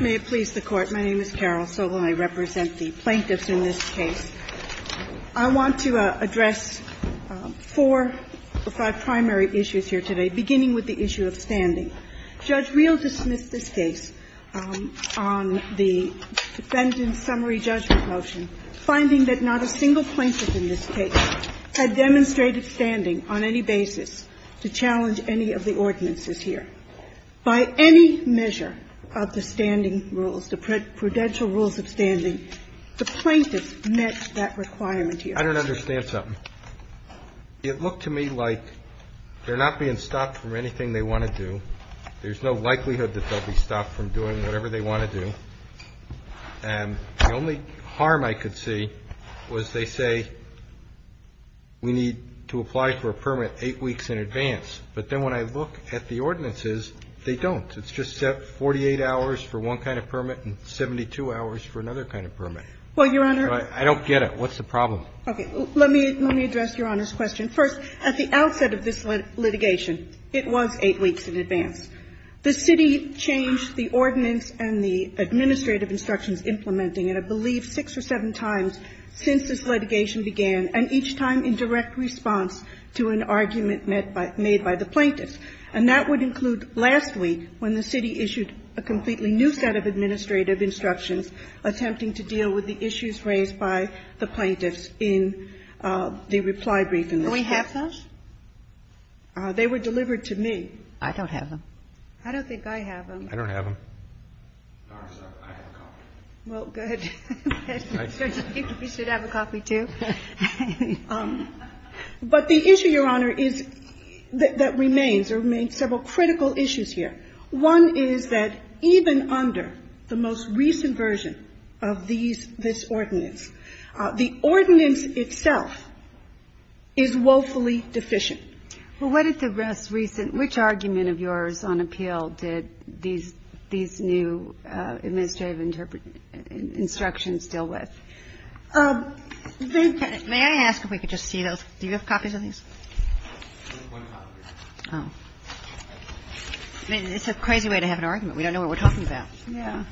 May it please the Court, my name is Carol Solon. I represent the plaintiffs in this case. I want to address four or five primary issues here today, beginning with the issue of standing. Judge Reel dismissed this case on the defendant's summary judgment motion, finding that not a single plaintiff in this case had demonstrated standing on any basis to challenge any of the ordinances here. By any measure of the standing rules, the prudential rules of standing, the plaintiffs met that requirement here. I don't understand something. It looked to me like they're not being stopped from anything they want to do. There's no likelihood that they'll be stopped from doing whatever they want to do. And the only harm I could see was they say we need to apply for a permit eight weeks in advance. But then when I look at the ordinances, they don't. It's just 48 hours for one kind of permit and 72 hours for another kind of permit. Well, Your Honor. I don't get it. What's the problem? Okay. Let me address Your Honor's question. First, at the outset of this litigation, it was eight weeks in advance. The city changed the ordinance and the administrative instructions implementing it, I believe, six or seven times since this litigation began, and each time in direct response to an argument made by the plaintiffs. And that would include last week when the city issued a completely new set of administrative instructions attempting to deal with the issues raised by the plaintiffs in the reply brief in this case. Do we have those? They were delivered to me. I don't have them. I don't think I have them. I don't have them. I'm sorry. I have a copy. Well, good. You should have a copy, too. But the issue, Your Honor, is that remains. There remain several critical issues here. One is that even under the most recent version of these ordinance, the ordinance itself is woefully deficient. Well, what is the most recent? Which argument of yours on appeal did these new administrative instructions deal with? May I ask if we could just see those? Do you have copies of these? One copy. Oh. I mean, it's a crazy way to have an argument. We don't know what we're talking about. Yeah.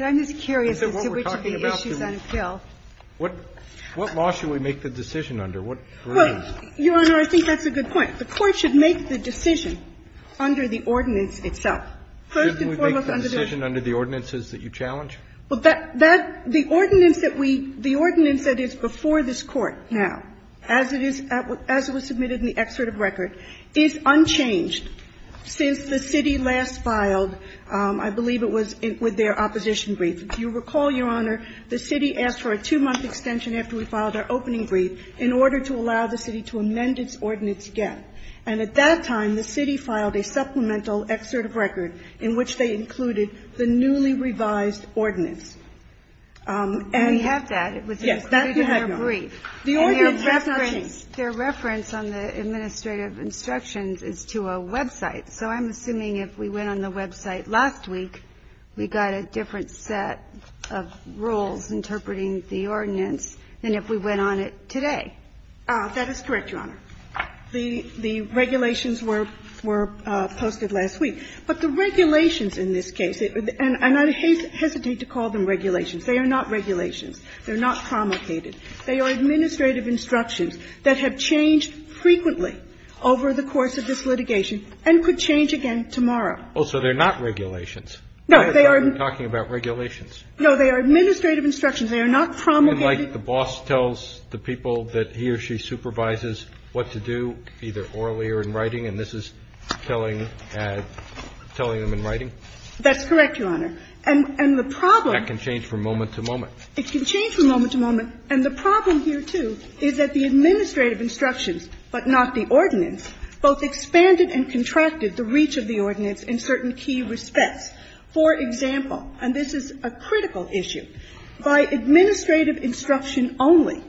I'm just curious as to which of the issues on appeal. What law should we make the decision under? What version? Well, Your Honor, I think that's a good point. The Court should make the decision under the ordinance itself. First and foremost under the ordinance. Shouldn't we make the decision under the ordinances that you challenge? Well, that the ordinance that we, the ordinance that is before this Court now, as it is, as it was submitted in the excerpt of record, is unchanged since the city last filed, I believe it was with their opposition brief. If you recall, Your Honor, the city asked for a two-month extension after we filed our opening brief in order to allow the city to amend its ordinance again. And at that time, the city filed a supplemental excerpt of record in which they included the newly revised ordinance. And we have that. Yes, that we have, Your Honor. It was included in their brief. The ordinance has changed. Their reference on the administrative instructions is to a website. So I'm assuming if we went on the website last week, we got a different set of rules interpreting the ordinance than if we went on it today. That is correct, Your Honor. The regulations were posted last week. But the regulations in this case, and I hesitate to call them regulations. They are not regulations. They're not promulgated. They are administrative instructions that have changed frequently over the course of this litigation and could change again tomorrow. Oh, so they're not regulations? No, they are. I thought you were talking about regulations. No, they are administrative instructions. They are not promulgated. And like the boss tells the people that he or she supervises what to do, either orally or in writing, and this is telling them in writing? That's correct, Your Honor. And the problem That can change from moment to moment. It can change from moment to moment. And the problem here, too, is that the administrative instructions, but not the ordinance, both expanded and contracted the reach of the ordinance in certain key respects. For example, and this is a critical issue, by administrative instruction only,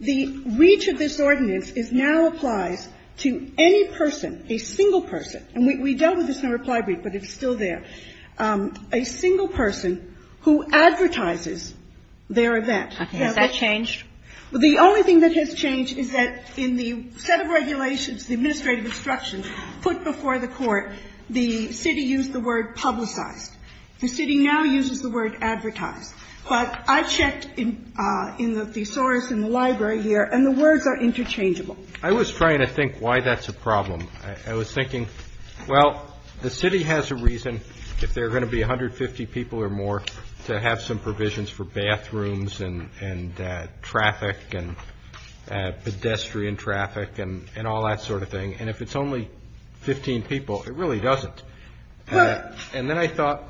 the reach of this ordinance now applies to any person, a single person, and we dealt with this in a reply brief, but it's still there, a single person who advertises their event. Okay. Has that changed? The only thing that has changed is that in the set of regulations, the administrative instructions put before the Court, the city used the word publicized. The city now uses the word advertised. But I checked in the thesaurus in the library here, and the words are interchangeable. I was trying to think why that's a problem. I was thinking, well, the city has a reason, if there are going to be 150 people or more, to have some provisions for bathrooms and traffic and pedestrian traffic and all that sort of thing, and if it's only 15 people, it really doesn't. And then I thought,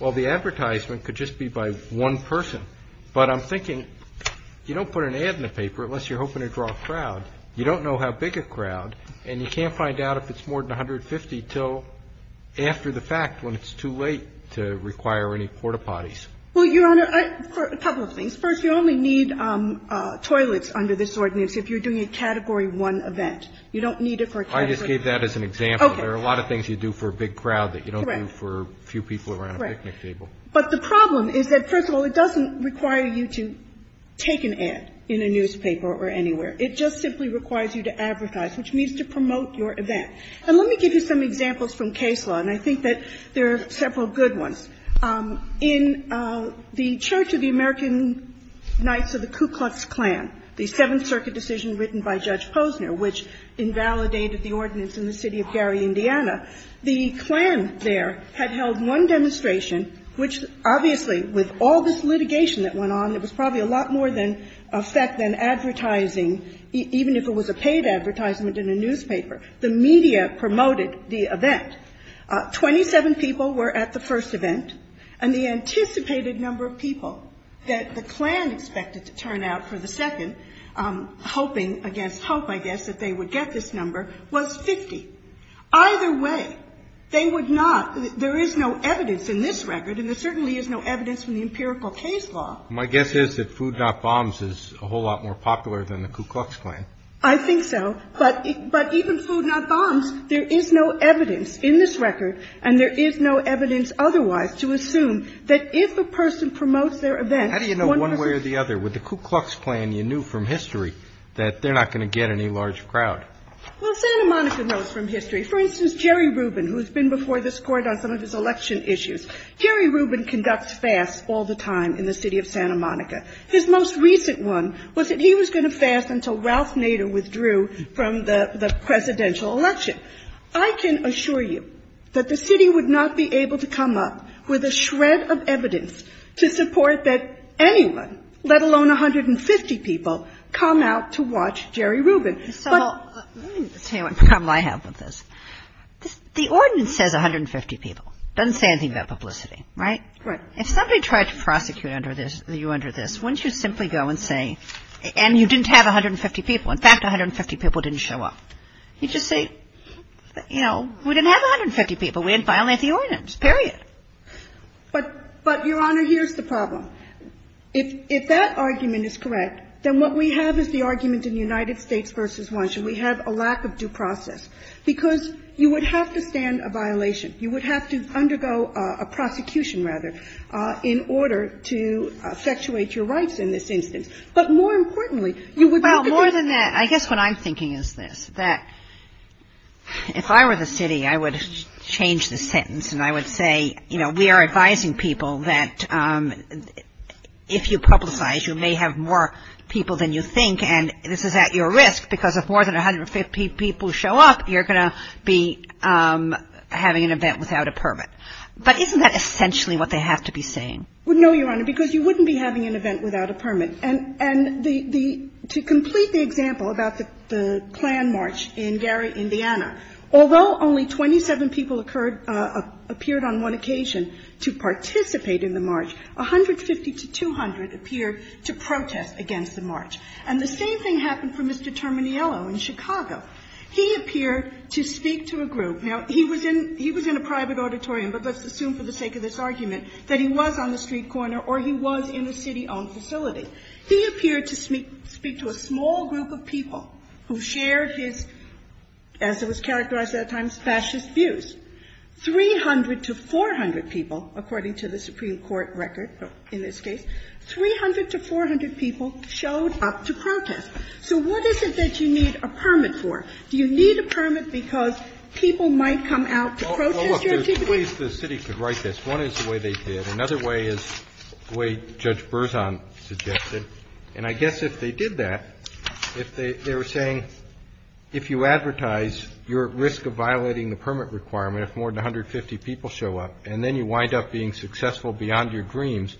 well, the advertisement could just be by one person. But I'm thinking, you don't put an ad in the paper unless you're hoping to draw a crowd. You don't know how big a crowd, and you can't find out if it's more than 150 until after the fact when it's too late to require any porta-potties. Well, Your Honor, a couple of things. First, you only need toilets under this ordinance if you're doing a Category 1 event. You don't need it for a Category 1 event. I just gave that as an example. There are a lot of things you do for a big crowd that you don't do for a few people around a picnic table. Correct. But the problem is that, first of all, it doesn't require you to take an ad in a newspaper or anywhere. It just simply requires you to advertise, which means to promote your event. And let me give you some examples from case law, and I think that there are several good ones. In the Church of the American Knights of the Ku Klux Klan, the Seventh Circuit decision written by Judge Posner, which invalidated the ordinance in the city of Gary, Indiana, the Klan there had held one demonstration which, obviously, with all this litigation that went on, it was probably a lot more than advertising, even if it was a paid advertisement in a newspaper. The media promoted the event. Twenty-seven people were at the first event, and the anticipated number of people that the Klan expected to turn out for the second, hoping against hope, I guess, that they would get this number, was 50. Either way, they would not – there is no evidence in this record, and there certainly is no evidence from the empirical case law. My guess is that Food Not Bombs is a whole lot more popular than the Ku Klux Klan. I think so. But even Food Not Bombs, there is no evidence in this record, and there is no evidence otherwise to assume that if a person promotes their event, one of the – How do you know one way or the other? With the Ku Klux Klan, you knew from history that they're not going to get any large crowd. Well, Santa Monica knows from history. For instance, Jerry Rubin, who has been before this Court on some of his election issues, Jerry Rubin conducts fasts all the time in the city of Santa Monica. His most recent one was that he was going to fast until Ralph Nader withdrew from the presidential election. I can assure you that the city would not be able to come up with a shred of evidence to support that anyone, let alone 150 people, come out to watch Jerry Rubin. But – Let me tell you what problem I have with this. The ordinance says 150 people. It doesn't say anything about publicity, right? Right. If somebody tried to prosecute under this – you under this, wouldn't you simply go and say – and you didn't have 150 people. In fact, 150 people didn't show up. You just say, you know, we didn't have 150 people. We didn't violate the ordinance, period. But, Your Honor, here's the problem. If that argument is correct, then what we have is the argument in United States v. Washington. We have a lack of due process, because you would have to stand a violation. You would have to undergo a prosecution, rather, in order to effectuate your rights in this instance. But more importantly, you would have to be – More than that, I guess what I'm thinking is this, that if I were the city, I would change the sentence, and I would say, you know, we are advising people that if you publicize, you may have more people than you think, and this is at your risk, because if more than 150 people show up, you're going to be having an event without a permit. But isn't that essentially what they have to be saying? Well, no, Your Honor, because you wouldn't be having an event without a permit. And the – to complete the example about the Klan march in Gary, Indiana, although only 27 people occurred – appeared on one occasion to participate in the march, 150 to 200 appeared to protest against the march. And the same thing happened for Mr. Termaniello in Chicago. He appeared to speak to a group. Now, he was in a private auditorium, but let's assume for the sake of this argument that he was on the street corner or he was in a city-owned facility. He appeared to speak to a small group of people who shared his, as it was characterized at that time, fascist views. 300 to 400 people, according to the Supreme Court record in this case, 300 to 400 people showed up to protest. So what is it that you need a permit for? Do you need a permit because people might come out to protest your activity? Well, look, there's ways the city could write this. One is the way they did. Another way is the way Judge Berzon suggested. And I guess if they did that, if they were saying, if you advertise, you're at risk of violating the permit requirement if more than 150 people show up, and then you wind up being successful beyond your dreams,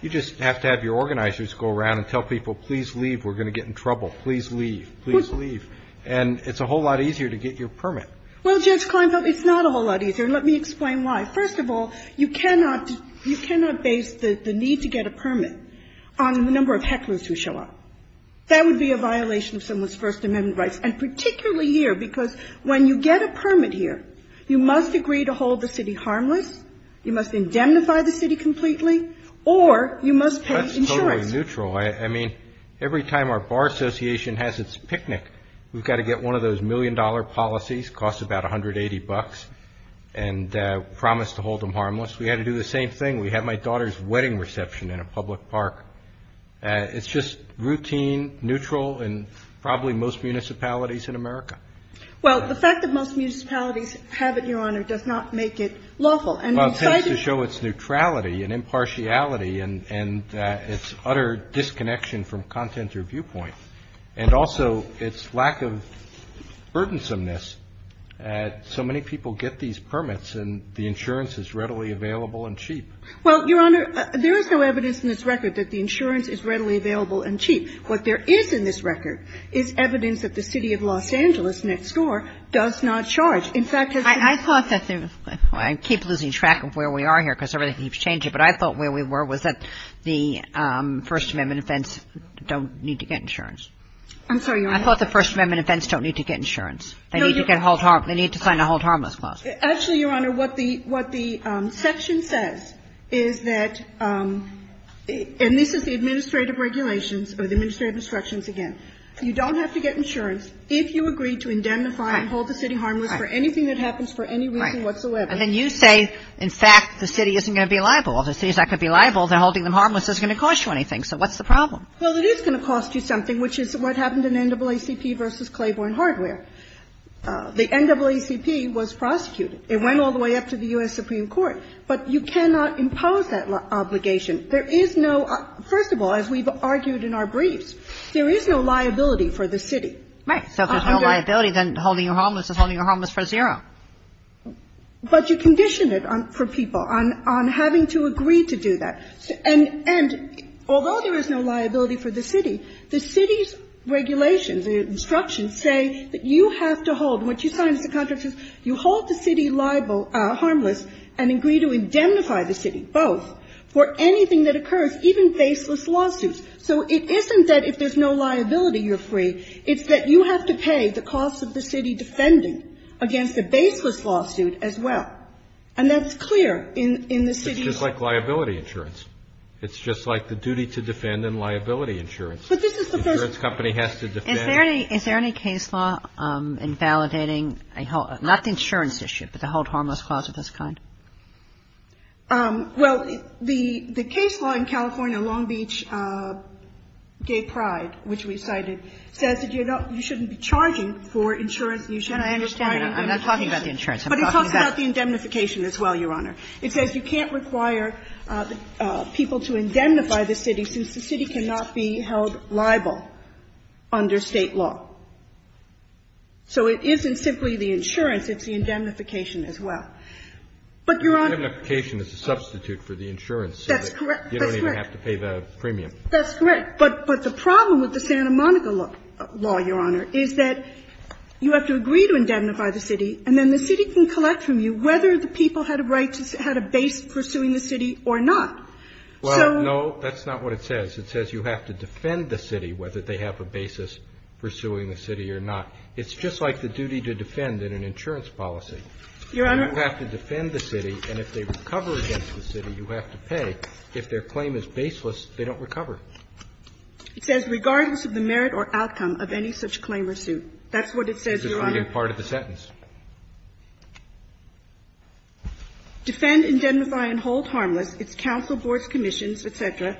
you just have to have your organizers go around and tell people, please leave, we're going to get in trouble. Please leave. Please leave. And it's a whole lot easier to get your permit. Well, Judge Kleinfeld, it's not a whole lot easier, and let me explain why. First of all, you cannot base the need to get a permit on the number of hecklers who show up. That would be a violation of someone's First Amendment rights, and particularly here, because when you get a permit here, you must agree to hold the city harmless, you must indemnify the city completely, or you must pay insurance. That's totally neutral. I mean, every time our bar association has its picnic, we've got to get one of those million-dollar policies, costs about $180, and promise to hold them harmless. We had to do the same thing. We had my daughter's wedding reception in a public park. It's just routine, neutral in probably most municipalities in America. Well, the fact that most municipalities have it, Your Honor, does not make it lawful. Well, it tends to show its neutrality and impartiality and its utter disconnection from content or viewpoint. And also, its lack of burdensomeness. So many people get these permits, and the insurance is readily available and cheap. Well, Your Honor, there is no evidence in this record that the insurance is readily available and cheap. What there is in this record is evidence that the city of Los Angeles next door does not charge. In fact, it's the same thing. I thought that there was – I keep losing track of where we are here because everything keeps changing, but I thought where we were was that the First Amendment events don't need to get insurance. I'm sorry, Your Honor. I thought the First Amendment events don't need to get insurance. They need to get hold – they need to sign a hold harmless clause. Actually, Your Honor, what the section says is that – and this is the administrative regulations or the administrative instructions again. You don't have to get insurance if you agree to indemnify and hold the city harmless for anything that happens for any reason whatsoever. Right. And then you say, in fact, the city isn't going to be liable. Well, if the city is not going to be liable, then holding them harmless isn't going to cost you anything. So what's the problem? Well, it is going to cost you something, which is what happened in NAACP v. Claiborne Hardware. The NAACP was prosecuted. It went all the way up to the U.S. Supreme Court. But you cannot impose that obligation. There is no – first of all, as we've argued in our briefs, there is no liability for the city. Right. So if there's no liability, then holding them harmless is holding them harmless for zero. But you condition it for people on having to agree to do that. And although there is no liability for the city, the city's regulations and instructions say that you have to hold, and what you sign as a contract is you hold the city liable – harmless and agree to indemnify the city, both, for anything that occurs, even baseless lawsuits. So it isn't that if there's no liability, you're free. It's that you have to pay the costs of the city defending against a baseless lawsuit as well. And that's clear in the city's law. It's just like the duty to defend and liability insurance. Insurance company has to defend. Kagan. Is there any case law invalidating a – not the insurance issue, but the hold harmless clause of this kind? Well, the case law in California, Long Beach gave pride, which we cited, says that you shouldn't be charging for insurance. You shouldn't be requiring indemnification. And I understand that. I'm not talking about the insurance. I'm talking about the indemnification as well, Your Honor. It says you can't require people to indemnify the city since the city cannot be held liable under State law. So it isn't simply the insurance. It's the indemnification as well. But, Your Honor – Indemnification is a substitute for the insurance. That's correct. That's correct. You don't even have to pay the premium. That's correct. But the problem with the Santa Monica law, Your Honor, is that you have to agree to indemnify the city, and then the city can collect from you whether the people had a right to – had a basis in pursuing the city or not. So – Well, no, that's not what it says. It says you have to defend the city whether they have a basis pursuing the city or not. It's just like the duty to defend in an insurance policy. Your Honor – You have to defend the city, and if they recover against the city, you have to pay. If their claim is baseless, they don't recover. It says regardless of the merit or outcome of any such claim or suit. That's what it says, Your Honor. It's just reading part of the sentence. Defend, indemnify, and hold harmless its council boards, commissions, et cetera,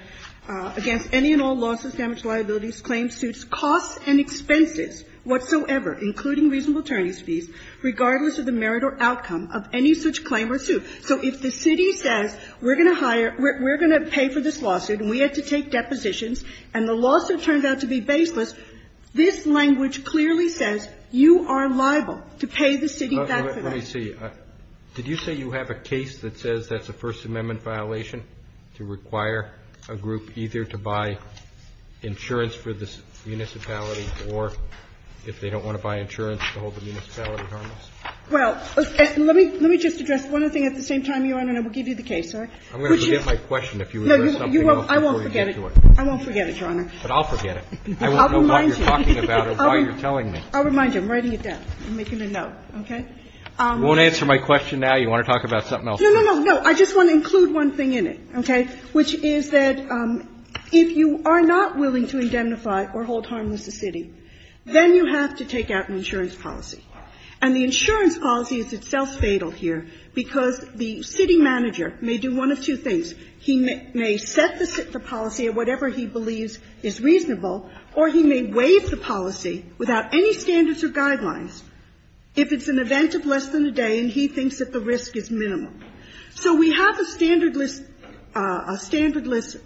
against any and all losses, damage, liabilities, claims, suits, costs, and expenses whatsoever, including reasonable attorney's fees, regardless of the merit or outcome of any such claim or suit. So if the city says we're going to hire – we're going to pay for this lawsuit and we have to take depositions, and the lawsuit turns out to be baseless, this language clearly says you are liable to pay the city back for that. Let me see. Did you say you have a case that says that's a First Amendment violation to require a group either to buy insurance for the municipality or if they don't want to buy insurance to hold the municipality harmless? Well, let me – let me just address one other thing at the same time, Your Honor, and I will give you the case, all right? I'm going to forget my question. No, you won't. I won't forget it. I won't forget it, Your Honor. But I'll forget it. I won't know what you're talking about or why you're talking about it. What are you telling me? I'll remind you. I'm writing it down. I'm making a note, okay? You won't answer my question now? You want to talk about something else? No, no, no, no. I just want to include one thing in it, okay, which is that if you are not willing to indemnify or hold harmless the city, then you have to take out an insurance policy. And the insurance policy is itself fatal here because the city manager may do one He may set the policy at whatever he believes is reasonable, or he may waive the policy without any standards or guidelines if it's an event of less than a day and he thinks that the risk is minimum. So we have a standardless, a standardless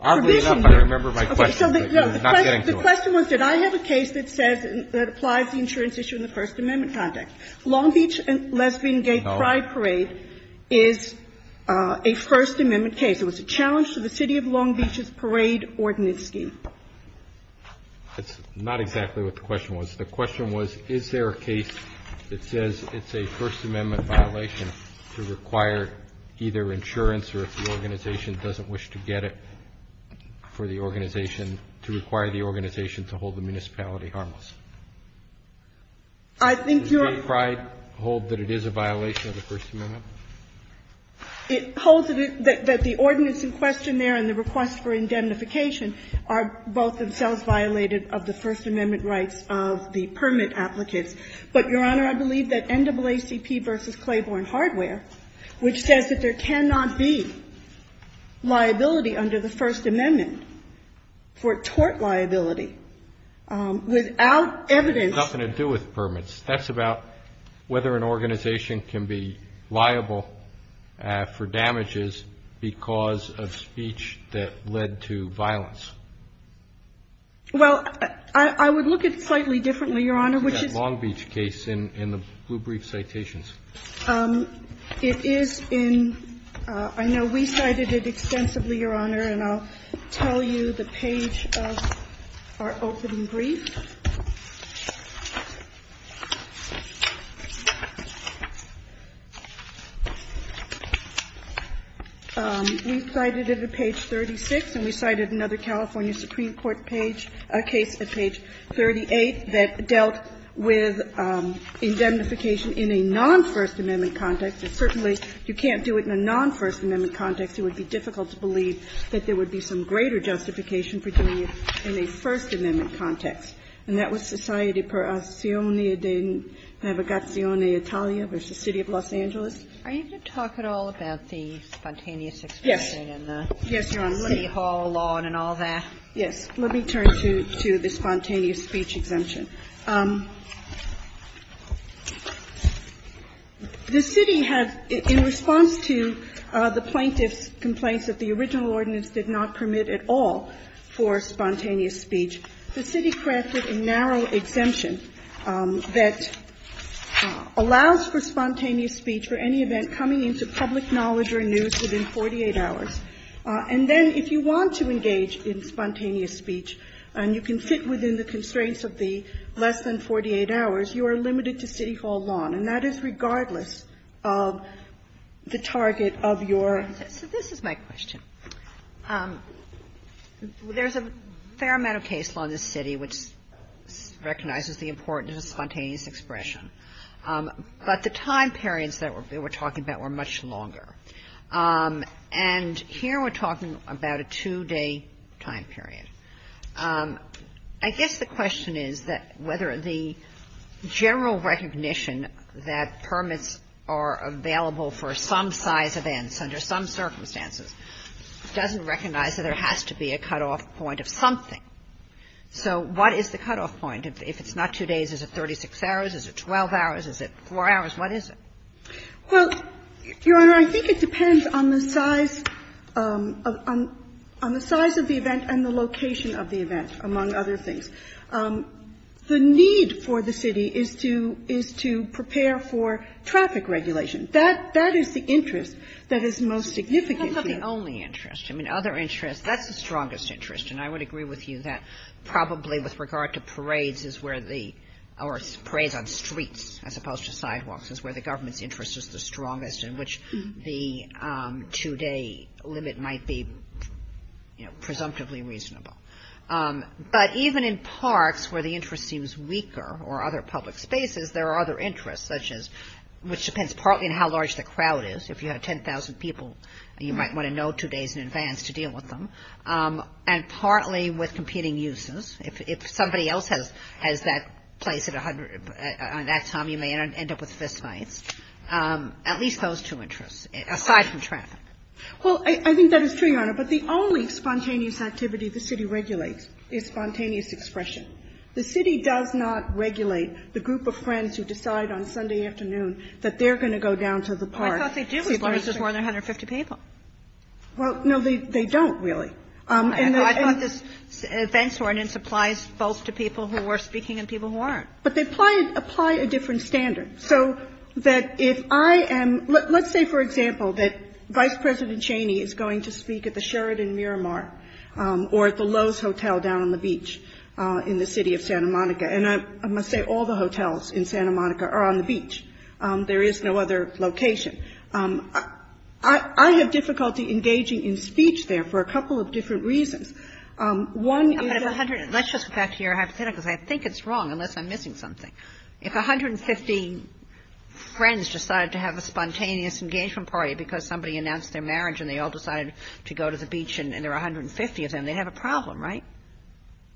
provision. I remember my question, but I'm not getting to it. The question was did I have a case that says, that applies the insurance issue in the First Amendment context. Long Beach and Lesbian and Gay Pride Parade is a First Amendment case. It was a challenge to the city of Long Beach's parade ordinance scheme. That's not exactly what the question was. The question was, is there a case that says it's a First Amendment violation to require either insurance or if the organization doesn't wish to get it for the organization to require the organization to hold the municipality harmless? I think you're Does Gay Pride hold that it is a violation of the First Amendment? It holds that the ordinance in question there and the request for indemnification are both themselves violated of the First Amendment rights of the permit applicants. But, Your Honor, I believe that NAACP versus Claiborne Hardware, which says that there cannot be liability under the First Amendment for tort liability, without evidence It has nothing to do with permits. That's about whether an organization can be liable for damages because of speech that led to violence. Well, I would look at it slightly differently, Your Honor, which is Long Beach case in the blue brief citations. It is in, I know we cited it extensively, Your Honor, and I'll tell you the page of our opening brief. We cited it at page 36, and we cited another California Supreme Court page, case at page 38, that dealt with indemnification in a non-First Amendment context. Certainly, if you can't do it in a non-First Amendment context, it would be difficult to believe that there would be some greater justification for doing it in a First Amendment context. And that was Societe Perazione d'Inavigazione Italia versus City of Los Angeles. Are you going to talk at all about the spontaneous exemption and the city hall law and all that? Yes. Let me turn to the spontaneous speech exemption. The city has, in response to the plaintiff's complaints that the original ordinance did not permit at all for spontaneous speech, the city crafted a narrow exemption that allows for spontaneous speech for any event coming into public knowledge or news within 48 hours. And then if you want to engage in spontaneous speech and you can sit within the constraints of the less than 48 hours, you are limited to city hall law, and that is regardless of the target of your ---- So this is my question. There's a fair amount of case law in this city which recognizes the importance of spontaneous expression. But the time periods that we're talking about were much longer. And here we're talking about a two-day time period. I guess the question is that whether the general recognition that permits spontaneous speech are available for some size events under some circumstances doesn't recognize that there has to be a cutoff point of something. So what is the cutoff point? If it's not two days, is it 36 hours? Is it 12 hours? Is it 4 hours? What is it? Well, Your Honor, I think it depends on the size of the event and the location of the event, among other things. The need for the city is to prepare for traffic regulation. That is the interest that is most significant here. That's not the only interest. I mean, other interests, that's the strongest interest, and I would agree with you that probably with regard to parades is where the ---- or parades on streets as opposed to sidewalks is where the government's interest is the strongest interest in which the two-day limit might be, you know, presumptively reasonable. But even in parks where the interest seems weaker or other public spaces, there are other interests such as which depends partly on how large the crowd is. If you have 10,000 people, you might want to know two days in advance to deal with them. And partly with competing uses. If somebody else has that place at that time, you may end up with fist fights. At least those two interests, aside from traffic. Well, I think that is true, Your Honor. But the only spontaneous activity the city regulates is spontaneous expression. The city does not regulate the group of friends who decide on Sunday afternoon that they're going to go down to the park. Well, I thought they do with places where there are 150 people. Well, no, they don't really. I thought this events ordinance applies both to people who are speaking and people who aren't. But they apply a different standard. So that if I am – let's say, for example, that Vice President Cheney is going to speak at the Sheridan Miramar or at the Lowe's Hotel down on the beach in the city of Santa Monica. And I must say all the hotels in Santa Monica are on the beach. There is no other location. I have difficulty engaging in speech there for a couple of different reasons. One is a hundred and – Let's just go back to your hypotheticals. I think it's wrong, unless I'm missing something. If 150 friends decided to have a spontaneous engagement party because somebody announced their marriage and they all decided to go to the beach and there are 150 of them, they'd have a problem, right,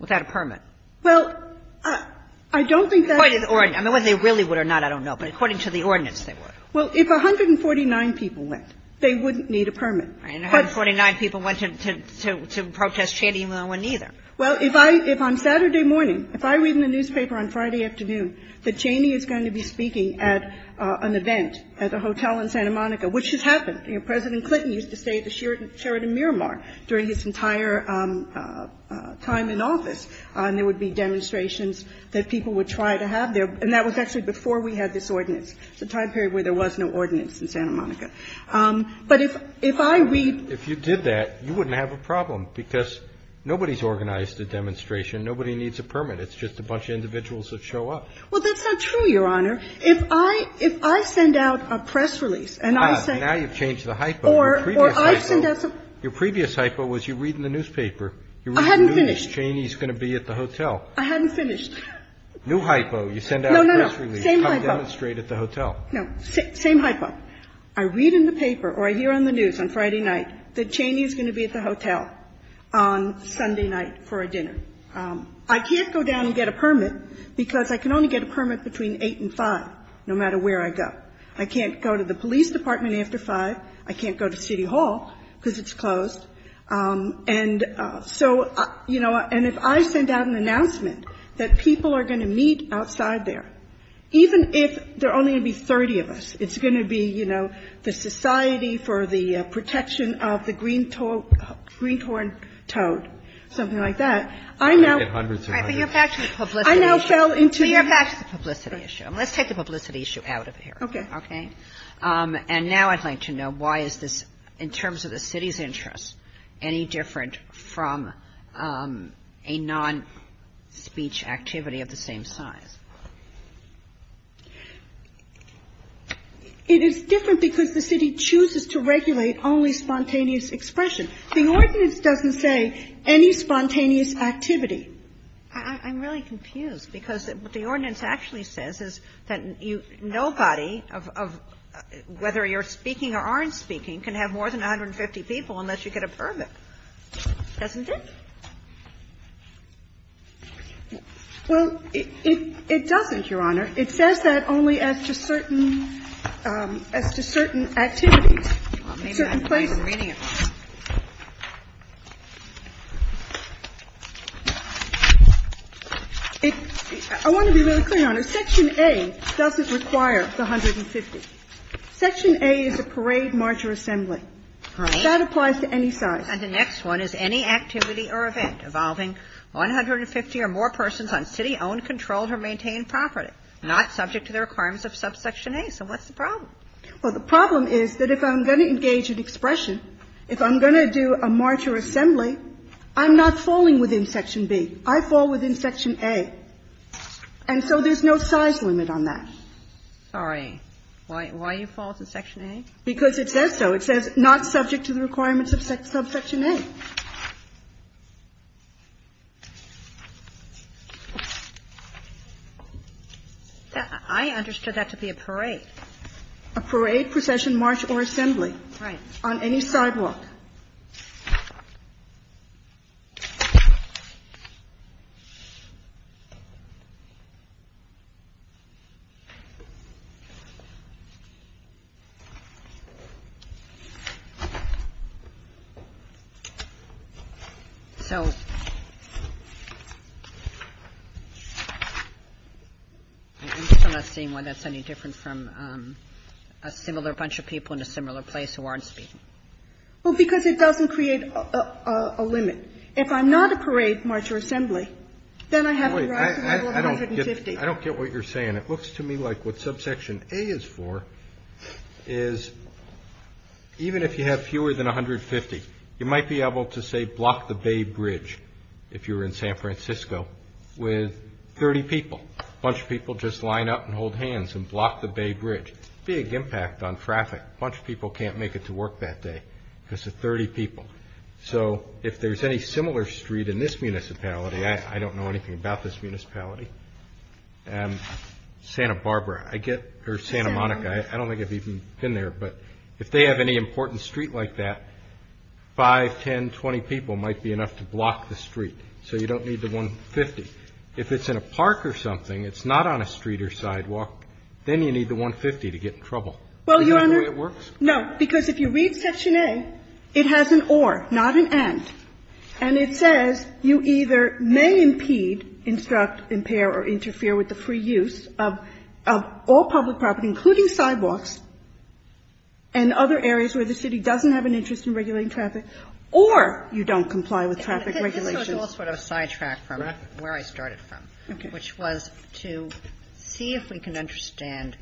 without a permit? Well, I don't think that's the case. I mean, whether they really would or not, I don't know. But according to the ordinance, they would. Well, if 149 people went, they wouldn't need a permit. And 149 people went to protest Cheney and no one either. Well, if I'm Saturday morning, if I read in the newspaper on Friday afternoon that Cheney is going to be speaking at an event at a hotel in Santa Monica, which has happened. President Clinton used to stay at the Sheridan Miramar during his entire time in office and there would be demonstrations that people would try to have there. And that was actually before we had this ordinance. It was a time period where there was no ordinance in Santa Monica. But if I read – If I read in the newspaper that Cheney is going to be speaking at an event at a hotel in Santa Monica, you wouldn't have a problem because nobody's organized a demonstration. Nobody needs a permit. It's just a bunch of individuals that show up. Well, that's not true, Your Honor. If I – if I send out a press release and I say – Ah, now you've changed the hypo. Your previous hypo was you read in the newspaper. I hadn't finished. You read in the news that Cheney is going to be at the hotel. I hadn't finished. New hypo. You send out a press release. You cut down a street at the hotel. No. Same hypo. I read in the paper or I hear on the news on Friday night that Cheney is going to be at the hotel on Sunday night for a dinner. I can't go down and get a permit because I can only get a permit between 8 and 5, no matter where I go. I can't go to the police department after 5. I can't go to City Hall because it's closed. And so, you know, and if I send out an announcement that people are going to meet outside there, even if there are only going to be 30 of us, it's going to be, you know, the Society for the Protection of the Green Toad, something like that, I now – But you're back to the publicity issue. I now fell into – But you're back to the publicity issue. Let's take the publicity issue out of here. Okay. Okay. And now I'd like to know why is this, in terms of the city's interest, any different from a non-speech activity of the same size? It is different because the city chooses to regulate only spontaneous expression. The ordinance doesn't say any spontaneous activity. I'm really confused, because what the ordinance actually says is that nobody of – whether you're speaking or aren't speaking can have more than 150 people unless you get a permit, doesn't it? Well, it doesn't, Your Honor. It says that only as to certain activities, certain places. I don't know what the meaning of that is. I want to be really clear, Your Honor. Section A doesn't require the 150. Section A is a parade, march, or assembly. All right. That applies to any size. And the next one is any activity or event involving 150 or more persons on city-owned control to maintain property, not subject to the requirements of subsection A. So what's the problem? Well, the problem is that if I'm going to engage in expression, if I'm going to do a march or assembly, I'm not falling within Section B. I fall within Section A. And so there's no size limit on that. Sorry. Why you fall to Section A? Because it says so. It says not subject to the requirements of subsection A. I understood that to be a parade. A parade, procession, march, or assembly. Right. On any sidewalk. So I'm still not seeing why that's any different from a similar bunch of people in a similar place who aren't speaking. Well, because it doesn't create a limit. If I'm not a parade, march, or assembly, then I have a rise to the level of 150. I don't get what you're saying. It looks to me like what subsection A is for is even if you have fewer than 150, you might be able to, say, block the Bay Bridge, if you were in San Francisco, with 30 people. A bunch of people just line up and hold hands and block the Bay Bridge. Big impact on traffic. A bunch of people can't make it to work that day because of 30 people. So if there's any similar street in this municipality, I don't know anything about this municipality, Santa Barbara, or Santa Monica. I don't think I've even been there. But if they have any important street like that, 5, 10, 20 people might be enough to block the street. So you don't need the 150. If it's in a park or something, it's not on a street or sidewalk, then you need the 150 to get in trouble. Is that the way it works? No. Because if you read section A, it has an or, not an and. And it says you either may impede, instruct, impair, or interfere with the free use of all public property, including sidewalks, and other areas where the city doesn't have an interest in regulating traffic, or you don't comply with traffic regulations. I just want to sidetrack from where I started from, which was to see if we can understand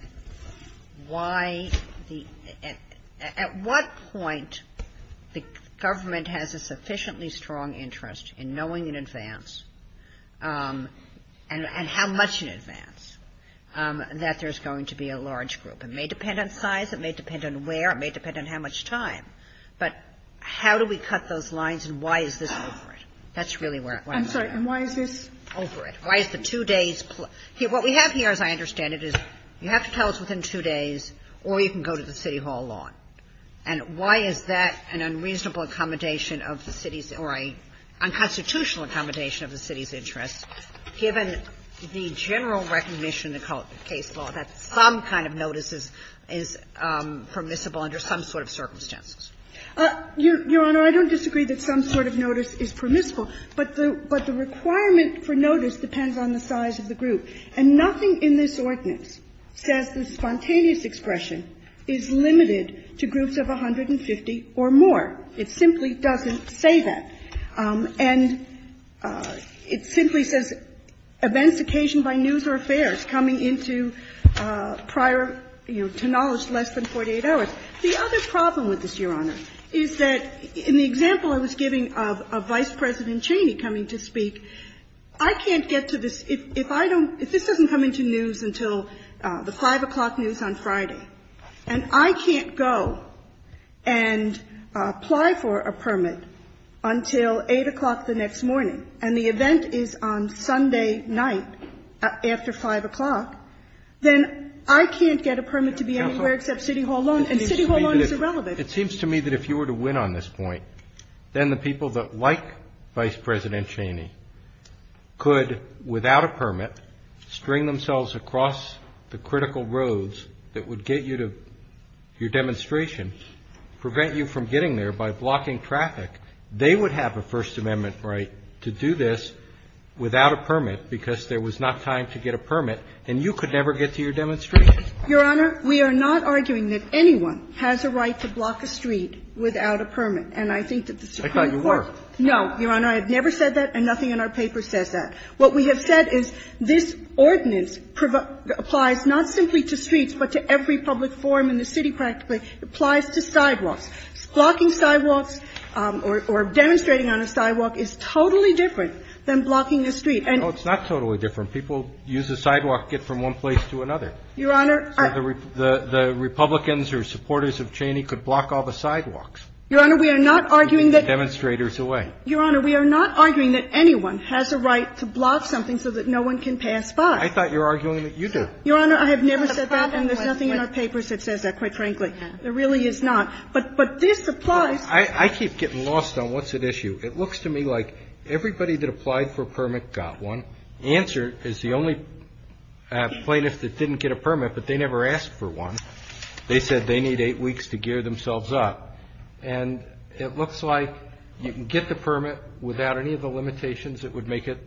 why the at what point the government has a sufficiently strong interest in knowing in advance, and how much in advance, that there's going to be a large group. It may depend on size. It may depend on where. It may depend on how much time. But how do we cut those lines, and why is this over it? That's really where I'm at. I'm sorry. And why is this over it? Why is the two days? What we have here, as I understand it, is you have to tell us within two days, or you can go to the city hall law. And why is that an unreasonable accommodation of the city's or a unconstitutional accommodation of the city's interests, given the general recognition in the case law that some kind of notice is permissible under some sort of circumstances? Your Honor, I don't disagree that some sort of notice is permissible, but the requirement for notice depends on the size of the group. And nothing in this ordinance says the spontaneous expression is limited to groups of 150 or more. It simply doesn't say that. And it simply says events occasioned by news or affairs coming into prior, you know, to knowledge less than 48 hours. The other problem with this, Your Honor, is that in the example I was giving of Vice President Cheney coming to speak, I can't get to this. If I don't – if this doesn't come into news until the 5 o'clock news on Friday, and I can't go and apply for a permit until 8 o'clock the next morning, and the event is on Sunday night after 5 o'clock, then I can't get a permit to be anywhere except City Hall alone, and City Hall alone is irrelevant. It seems to me that if you were to win on this point, then the people that like Vice President Cheney could, without a permit, string themselves across the critical roads that would get you to your demonstration, prevent you from getting there by blocking traffic, they would have a First Amendment right to do this without a permit because there was not time to get a permit, and you could never get to your demonstration. Your Honor, we are not arguing that anyone has a right to block a street without a permit, and I think that the Supreme Court – I thought you were. No, Your Honor. I have never said that, and nothing in our paper says that. What we have said is this ordinance applies not simply to streets, but to every public forum in the city practically. It applies to sidewalks. Blocking sidewalks or demonstrating on a sidewalk is totally different than blocking a street. And – No, it's not totally different. People use a sidewalk to get from one place to another. Your Honor – So the Republicans who are supporters of Cheney could block all the sidewalks. Your Honor, we are not arguing that – Demonstrators away. Your Honor, we are not arguing that anyone has a right to block something so that no one can pass by. I thought you were arguing that you do. Your Honor, I have never said that, and there's nothing in our papers that says that, quite frankly. There really is not. But this applies – I keep getting lost on what's at issue. It looks to me like everybody that applied for a permit got one. Answer is the only plaintiff that didn't get a permit, but they never asked for one. They said they need eight weeks to gear themselves up. And it looks like you can get the permit without any of the limitations that would make it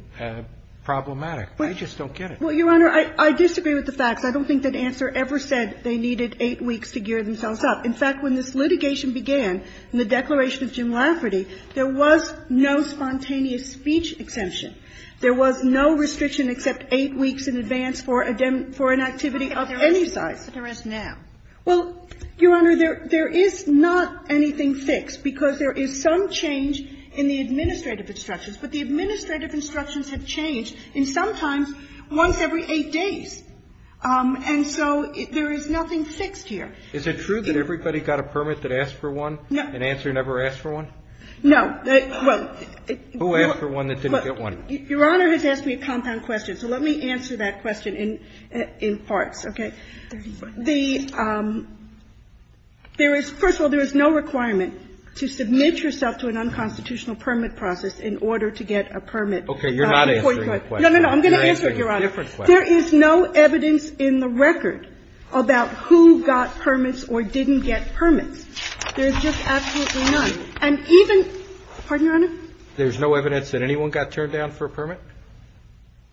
problematic. I just don't get it. Well, Your Honor, I disagree with the facts. I don't think that Answer ever said they needed eight weeks to gear themselves up. In fact, when this litigation began in the Declaration of Jim Lafferty, there was no spontaneous speech exemption. There was no restriction except eight weeks in advance for an activity of any size. But there is now. Well, Your Honor, there is not anything fixed, because there is some change in the administrative instructions. But the administrative instructions have changed, and sometimes once every eight days. And so there is nothing fixed here. Is it true that everybody got a permit that asked for one? No. And Answer never asked for one? No. Well, it – Who asked for one that didn't get one? Your Honor has asked me a compound question, so let me answer that question in parts. Okay? The – first of all, there is no requirement to submit yourself to an unconstitutional permit process in order to get a permit. Okay. You're not answering the question. No, no, no. I'm going to answer it, Your Honor. You're answering a different question. There is no evidence in the record about who got permits or didn't get permits. There is just absolutely none. And even – pardon, Your Honor? There's no evidence that anyone got turned down for a permit?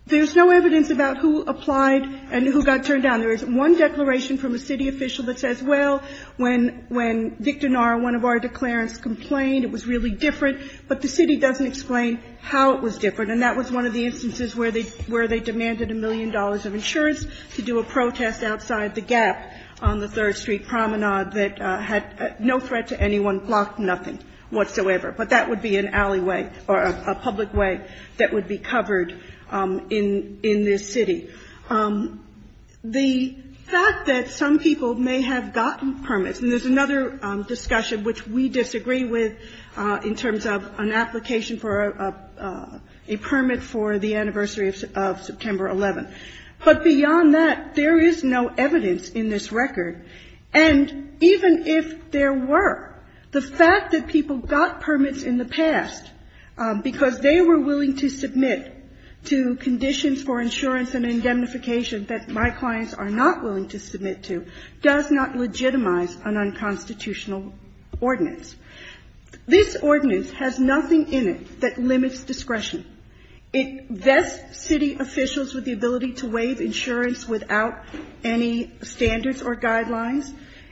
There's no evidence about who applied and who got turned down. There is one declaration from a city official that says, well, when Victor Nara, one of our declarants, complained, it was really different. But the city doesn't explain how it was different. And that was one of the instances where they – where they demanded a million dollars of insurance to do a protest outside the gap on the Third Street promenade that had no threat to anyone, blocked nothing whatsoever. But that would be an alleyway or a public way that would be covered in this city. The fact that some people may have gotten permits – and there's another discussion which we disagree with in terms of an application for a permit for the anniversary of September 11th. But beyond that, there is no evidence in this record. And even if there were, the fact that people got permits in the past because they were willing to submit to conditions for insurance and indemnification that my clients are not willing to submit to does not legitimize an unconstitutional ordinance. This ordinance has nothing in it that limits discretion. It vests city officials with the ability to waive insurance without any standards or guidelines.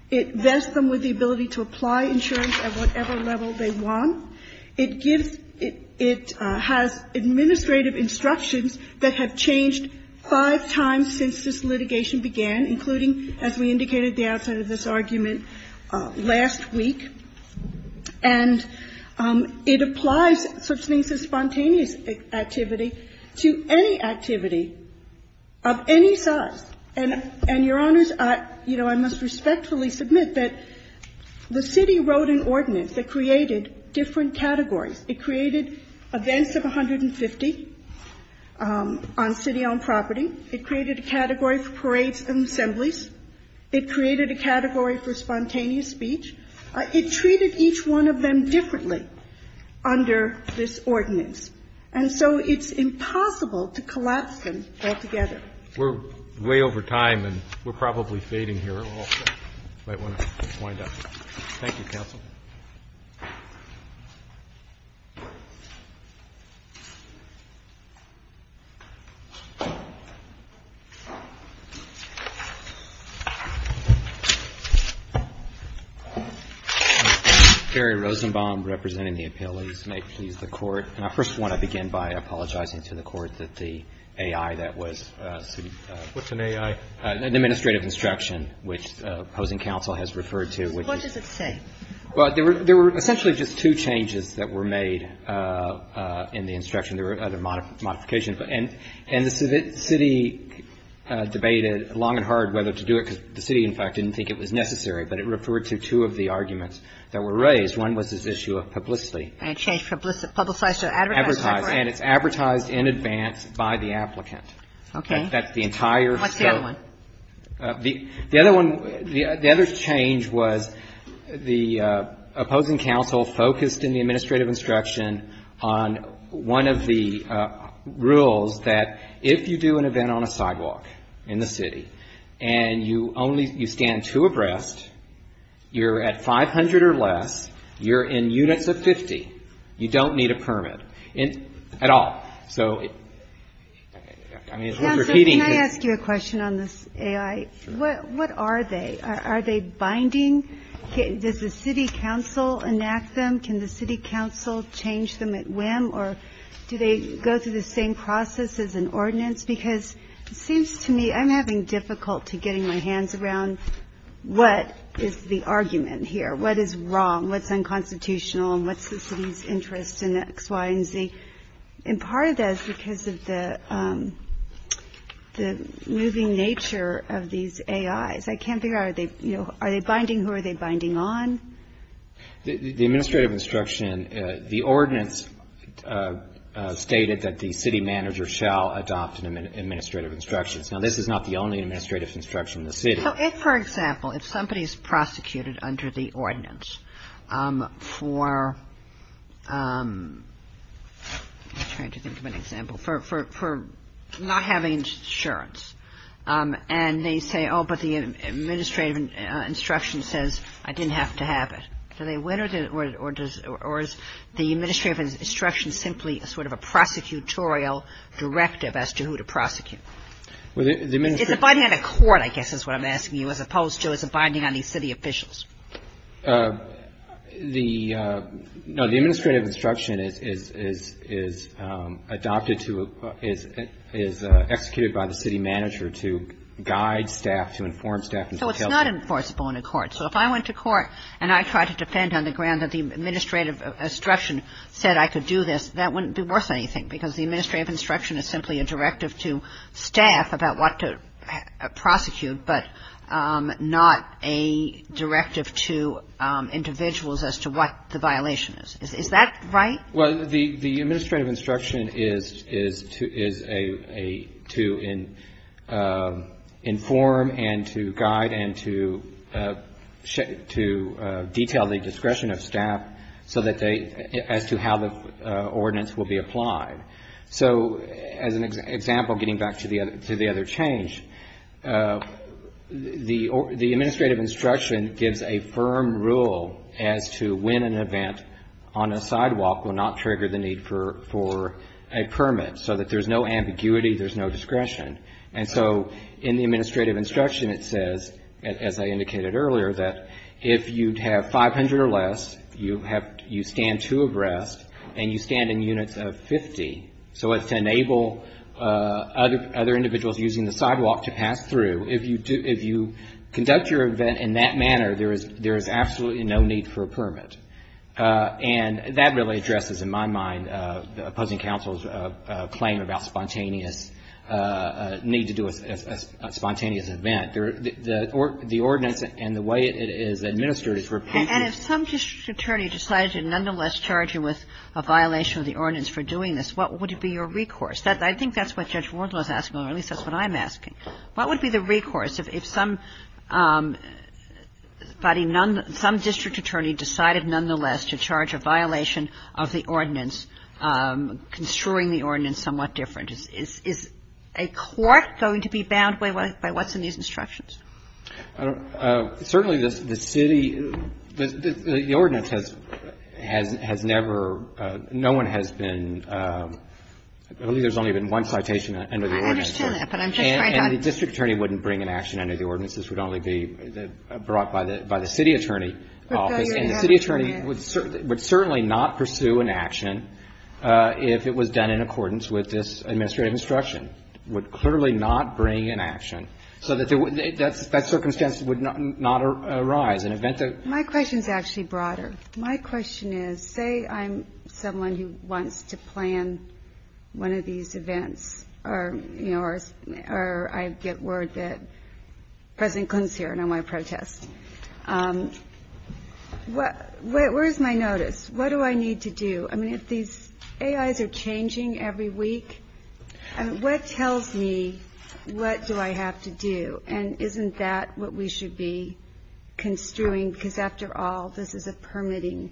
It vests them with the ability to apply insurance at whatever level they want. It gives – it has administrative instructions that have changed five times since this litigation began, including, as we indicated at the outset of this argument, last week. And it applies such things as spontaneous activity to any activity of any size. And, Your Honors, you know, I must respectfully submit that the city wrote an ordinance that created different categories. It created events of 150 on city-owned property. It created a category for parades and assemblies. It created a category for spontaneous speech. It treated each one of them differently under this ordinance. And so it's impossible to collapse them altogether. We're way over time, and we're probably fading here a little bit. You might want to wind up. Thank you, counsel. Mr. Rosenbaum, representing the appellees. May it please the Court, I first want to begin by apologizing to the Court that the city, what's an A.I.? An administrative instruction, which opposing counsel has referred to. What does it say? Well, there were essentially just two changes that were made in the instruction. There were other modifications. And the city debated long and hard whether to do it, because the city, in fact, didn't think it was necessary. But it referred to two of the arguments that were raised. One was this issue of publicity. And it changed publicize to advertise. Advertise. And it's advertised in advance by the applicant. Okay. That's the entire. What's the other one? The other one, the other change was the opposing counsel focused in the administrative instruction on one of the rules that if you do an event on a sidewalk in the city, and you only, you stand two abreast, you're at 500 or less, you're in units of 50, you don't need a permit at all. So, I mean, repeating. Counsel, can I ask you a question on this A.I.? What are they? Are they binding? Does the city council enact them? Can the city council change them at whim? Or do they go through the same process as an ordinance? Because it seems to me I'm having difficulty getting my hands around what is the argument here? What is wrong? What's unconstitutional? And what's the city's interest in X, Y, and Z? And part of that is because of the moving nature of these A.I.s. I can't figure out, are they binding? Who are they binding on? The administrative instruction, the ordinance stated that the city manager shall adopt an administrative instruction. Now, this is not the only administrative instruction in the city. So if, for example, if somebody is prosecuted under the ordinance for, I'm trying to think of an example, for not having insurance, and they say, oh, but the administrative instruction says I didn't have to have it, do they win or does, or is the administrative instruction simply sort of a prosecutorial directive as to who to prosecute? Is it binding on the court, I guess is what I'm asking you, as opposed to is it binding on the city officials? The administrative instruction is adopted to, is executed by the city manager to guide staff, to inform staff. So it's not enforceable in a court. So if I went to court and I tried to defend on the ground that the administrative instruction said I could do this, that wouldn't be worth anything because the administrative instruction is simply a directive to staff about what to prosecute, but not a directive to individuals as to what the violation is. Is that right? Well, the administrative instruction is to inform and to guide and to detail the discretion of staff so that they, as to how the ordinance will be applied. So as an example, getting back to the other change, the administrative instruction gives a firm rule as to when an event on a sidewalk will not trigger the need for a permit so that there's no ambiguity, there's no discretion. And so in the administrative instruction it says, as I indicated earlier, that if you'd have 500 or less, you have, you stand two abreast and you stand in units of 50 so as to enable other individuals using the sidewalk to pass through, if you do, if you conduct your event in that manner, there is absolutely no need for a permit. And that really addresses, in my mind, opposing counsel's claim about spontaneous, need to do a spontaneous event. The ordinance and the way it is administered is for a patient. And if some district attorney decided to nonetheless charge you with a violation of the ordinance for doing this, what would be your recourse? I think that's what Judge Ward was asking, or at least that's what I'm asking. What would be the recourse if somebody, some district attorney decided nonetheless to charge a violation of the ordinance, construing the ordinance somewhat different? Is a court going to be bound by what's in these instructions? Certainly, the city, the ordinance has never, no one has been, I believe there's only been one citation under the ordinance. I understand that, but I'm just trying to understand. And the district attorney wouldn't bring an action under the ordinance. This would only be brought by the city attorney office. And the city attorney would certainly not pursue an action if it was done in accordance with this administrative instruction, would clearly not bring an action, so that that circumstance would not arise in the event that... My question's actually broader. My question is, say I'm someone who wants to plan one of these events, or I get word that President Clinton's here and I want to protest. Where's my notice? What do I need to do? I mean, if these AIs are changing every week, what tells me what do I have to do? And isn't that what we should be construing? Because after all, this is a permitting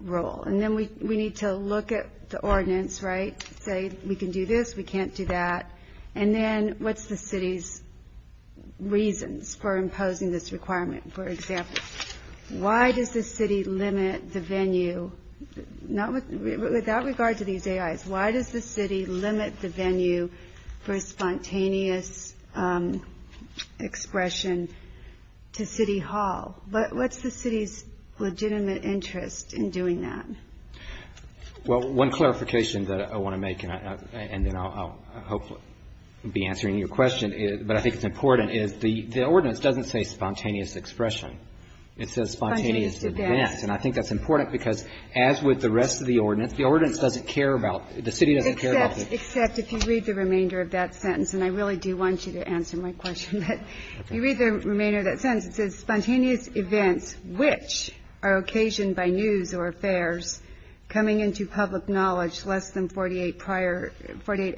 role. And then we need to look at the ordinance, right? Say we can do this, we can't do that. And then what's the city's reasons for imposing this requirement, for example? Why does the city limit the venue, with that regard to these AIs, why does the city limit the venue for spontaneous expression to city hall? But what's the city's legitimate interest in doing that? Well, one clarification that I want to make, and then I'll hopefully be answering your question, but I think it's important, is the ordinance doesn't say spontaneous expression. It says spontaneous events. Spontaneous events. And I think that's important because, as with the rest of the ordinance, the ordinance doesn't care about, the city doesn't care about the... Except, if you read the remainder of that sentence, and I really do want you to answer my question. If you read the remainder of that sentence, it says, spontaneous events which are occasioned by news or affairs coming into public knowledge less than 48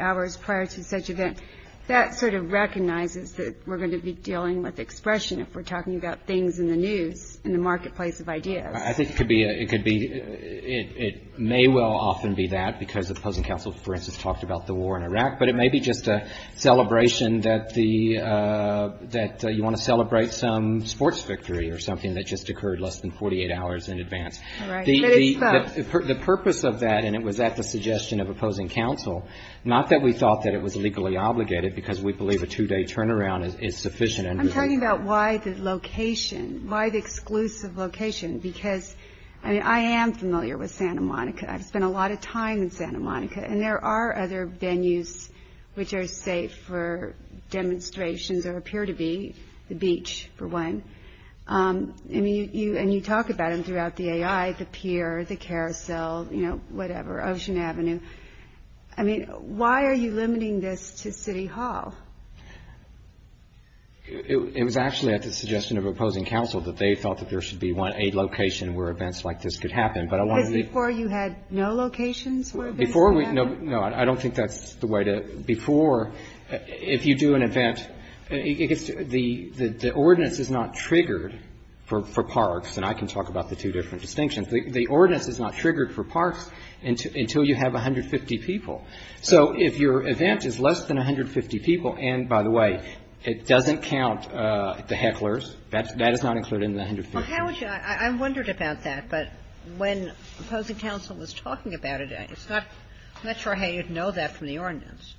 hours prior to such event. That sort of recognizes that we're going to be dealing with expression if we're talking about things in the news, in the marketplace of ideas. I think it could be, it may well often be that, because Opposing Council, for instance, talked about the war in Iraq, but it may be just a celebration that you want to celebrate some sports victory or something that just occurred less than 48 hours in advance. But it's thought. The purpose of that, and it was at the suggestion of Opposing Council, not that we thought that it was legally obligated, because we believe a two-day turnaround is sufficient. I'm talking about why the location, why the exclusive location, because I am familiar with Santa Monica. I've spent a lot of time in Santa Monica, and there are other venues which are safe for demonstrations, or appear to be, the beach, for one, and you talk about them throughout the AI, the pier, the carousel, whatever, Ocean Avenue. I mean, why are you limiting this to City Hall? It was actually at the suggestion of Opposing Council that they thought that there should be one, a location where events like this could happen, but I want to be. Because before you had no locations where events could happen? No, I don't think that's the way to, before, if you do an event, it gets, the ordinance is not triggered for parks, and I can talk about the two different distinctions. The ordinance is not triggered for parks until you have 150 people. So if your event is less than 150 people, and by the way, it doesn't count the hecklers, that is not included in the 150. Well, how would you, I wondered about that, but when Opposing Council was talking about it, I'm not sure how you'd know that from the ordinance,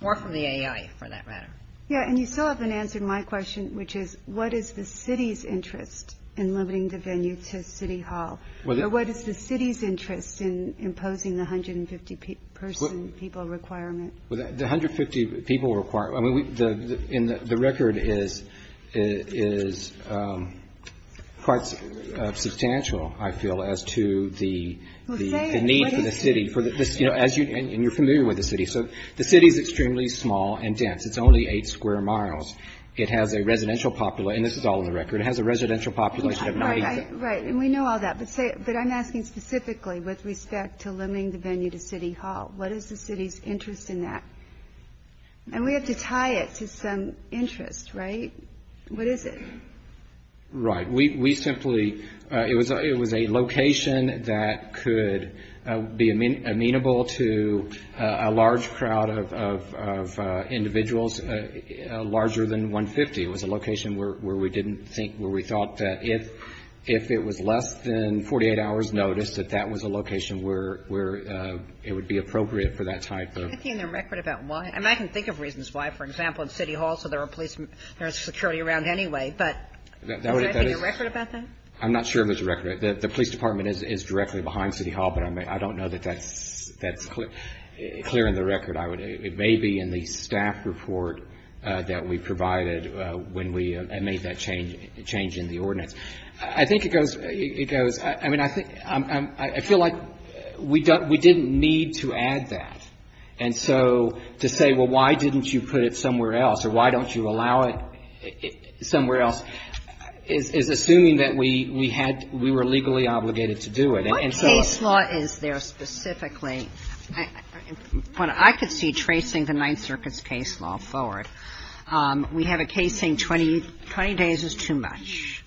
or from the AI, for that matter. Yeah, and you so often answered my question, which is, what is the city's interest in limiting the venue to City Hall, or what is the city's interest in imposing the 150-person people requirement? Well, the 150 people requirement, I mean, the record is quite substantial, I feel, as to the need for the city, for the, you know, as you, and you're familiar with the city. So the city is extremely small and dense. It's only eight square miles. It has a residential population, and this is all in the record, it has a residential population of 90. Right, right. And we know all that. But say, but I'm asking specifically with respect to limiting the venue to City Hall. What is the city's interest in that? And we have to tie it to some interest, right? What is it? Right. We simply, it was a location that could be amenable to a large crowd of individuals larger than 150. It was a location where we didn't think, where we thought that if it was less than 48 hours' notice, that that was a location where it would be appropriate for that type of... Can you give me a record about why? I mean, I can think of reasons why. For example, it's City Hall, so there are police, there's security around anyway, but is there, I think, a record about that? I'm not sure if there's a record. The police department is directly behind City Hall, but I don't know that that's clear in the record. I would, it may be in the staff report that we provided when we made that change in the ordinance. I think it goes, I mean, I feel like we didn't need to add that. And so to say, well, why didn't you put it somewhere else or why don't you allow it somewhere else is assuming that we had, we were legally obligated to do it. And so... We have a case saying 20 days is too much.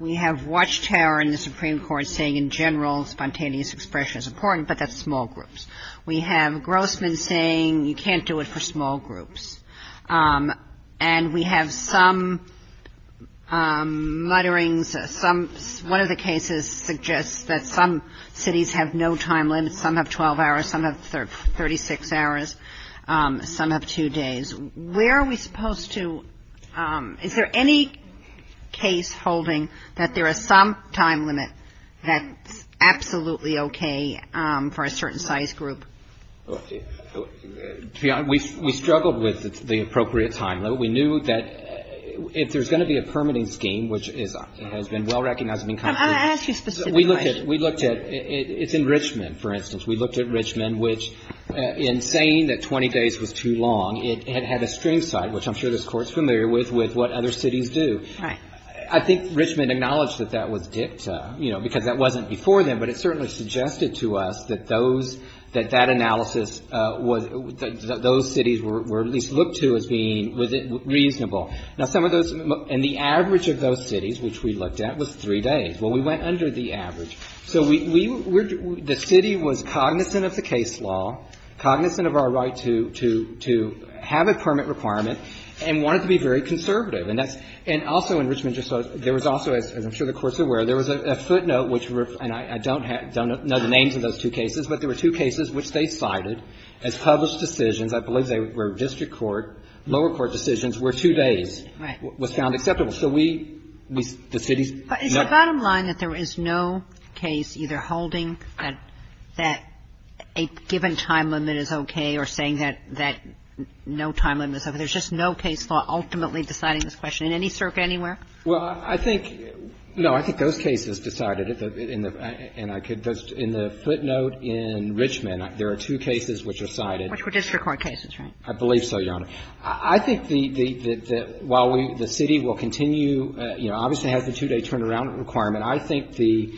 We have Watchtower in the Supreme Court saying in general spontaneous expression is important, but that's small groups. We have Grossman saying you can't do it for small groups. And we have some mutterings, some, one of the cases suggests that some cities have no time limits. Some have 12 hours, some have 36 hours, some have two days. Where are we supposed to, is there any case holding that there is some time limit that's absolutely okay for a certain size group? We struggled with the appropriate time limit. We knew that if there's going to be a permitting scheme, which has been well-recognized and been completed... I'll ask you a specific question. We looked at, we looked at, it's in Richmond, for instance. We looked at Richmond, which in saying that 20 days was too long, it had had a string cite, which I'm sure this Court's familiar with, with what other cities do. Right. I think Richmond acknowledged that that was dicta, you know, because that wasn't before then. But it certainly suggested to us that those, that that analysis was, that those cities were at least looked to as being, was it reasonable. Now, some of those, and the average of those cities, which we looked at, was three days. Well, we went under the average. So we, we were, the city was cognizant of the case law, cognizant of our right to, to, to have a permit requirement, and wanted to be very conservative. And that's, and also in Richmond, there was also, as I'm sure the Court's aware, there was a footnote which, and I don't have, don't know the names of those two cases, but there were two cases which they cited as published decisions. I believe they were district court, lower court decisions, where two days... Right. ...was found acceptable. So we, the city's... Is the bottom line that there is no case either holding that, that a given time limit is okay or saying that, that no time limit is okay? There's just no case law ultimately deciding this question in any circuit anywhere? Well, I think, no, I think those cases decided it, and I could, in the footnote in Richmond, there are two cases which are cited... Which were district court cases, right? I believe so, Your Honor. I think the, the, the, while we, the city will continue, you know, obviously has the two-day turnaround requirement, I think the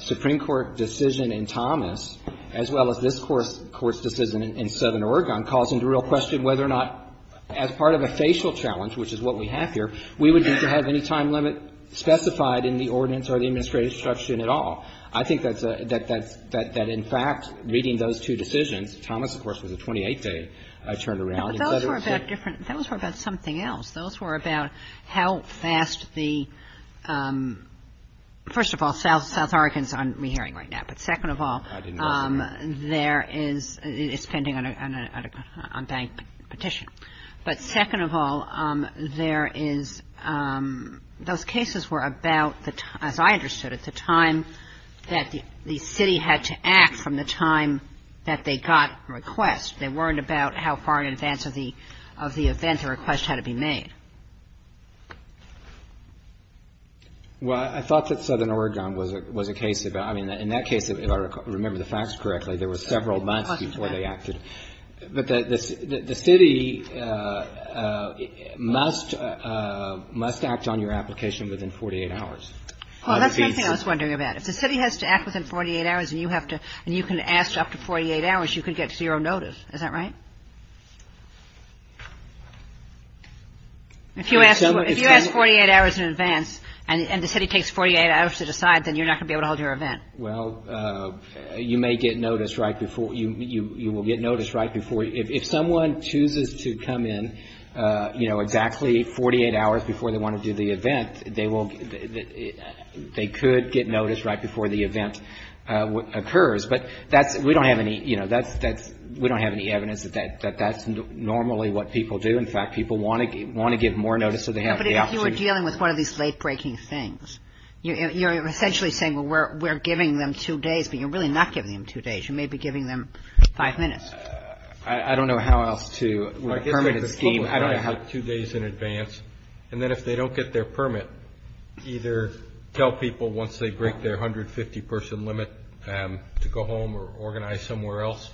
Supreme Court decision in Thomas, as well as this Court's decision in Southern Oregon, calls into real question whether or not, as part of a facial challenge, which is what we have here, we would need to have any time limit specified in the ordinance or the administrative structure at all. I think that's a, that, that, that in fact, reading those two decisions, Thomas, of course, was a 28-day turnaround... No, but those were about different, those were about something else. Those were about how fast the, first of all, South, South Oregon's on re-hearing right now, but second of all, there is, it's pending on a, on a bank petition. But second of all, there is, those cases were about the, as I understood, at the time that the city had to act from the time that they got requests. They weren't about how far in advance of the, of the event the request had to be made. Well, I thought that Southern Oregon was a, was a case about, I mean, in that case, if I remember the facts correctly, there were several months before they acted. But the, the city must, must act on your application within 48 hours. Well, that's something I was wondering about. If the city has to act within 48 hours and you have to, and you can ask up to 48 hours, you could get zero notice. Is that right? If you ask, if you ask 48 hours in advance and, and the city takes 48 hours to decide, then you're not going to be able to hold your event. Well, you may get notice right before, you, you will get notice right before, if someone chooses to come in, you know, exactly 48 hours before they want to do the event, they will, they could get notice right before the event occurs. But that's, we don't have any, you know, that's, that's, we don't have any evidence that, that that's normally what people do. In fact, people want to, want to get more notice so they have the opportunity. But if you were dealing with one of these late-breaking things, you're essentially saying, well, we're, we're giving them two days, but you're really not giving them two days. You may be giving them five minutes. I, I don't know how else to, with a permitted scheme, I don't know how. I guess that the public has it two days in advance, and then if they don't get their permit, either tell people once they break their 150-person limit to go home or organize somewhere else,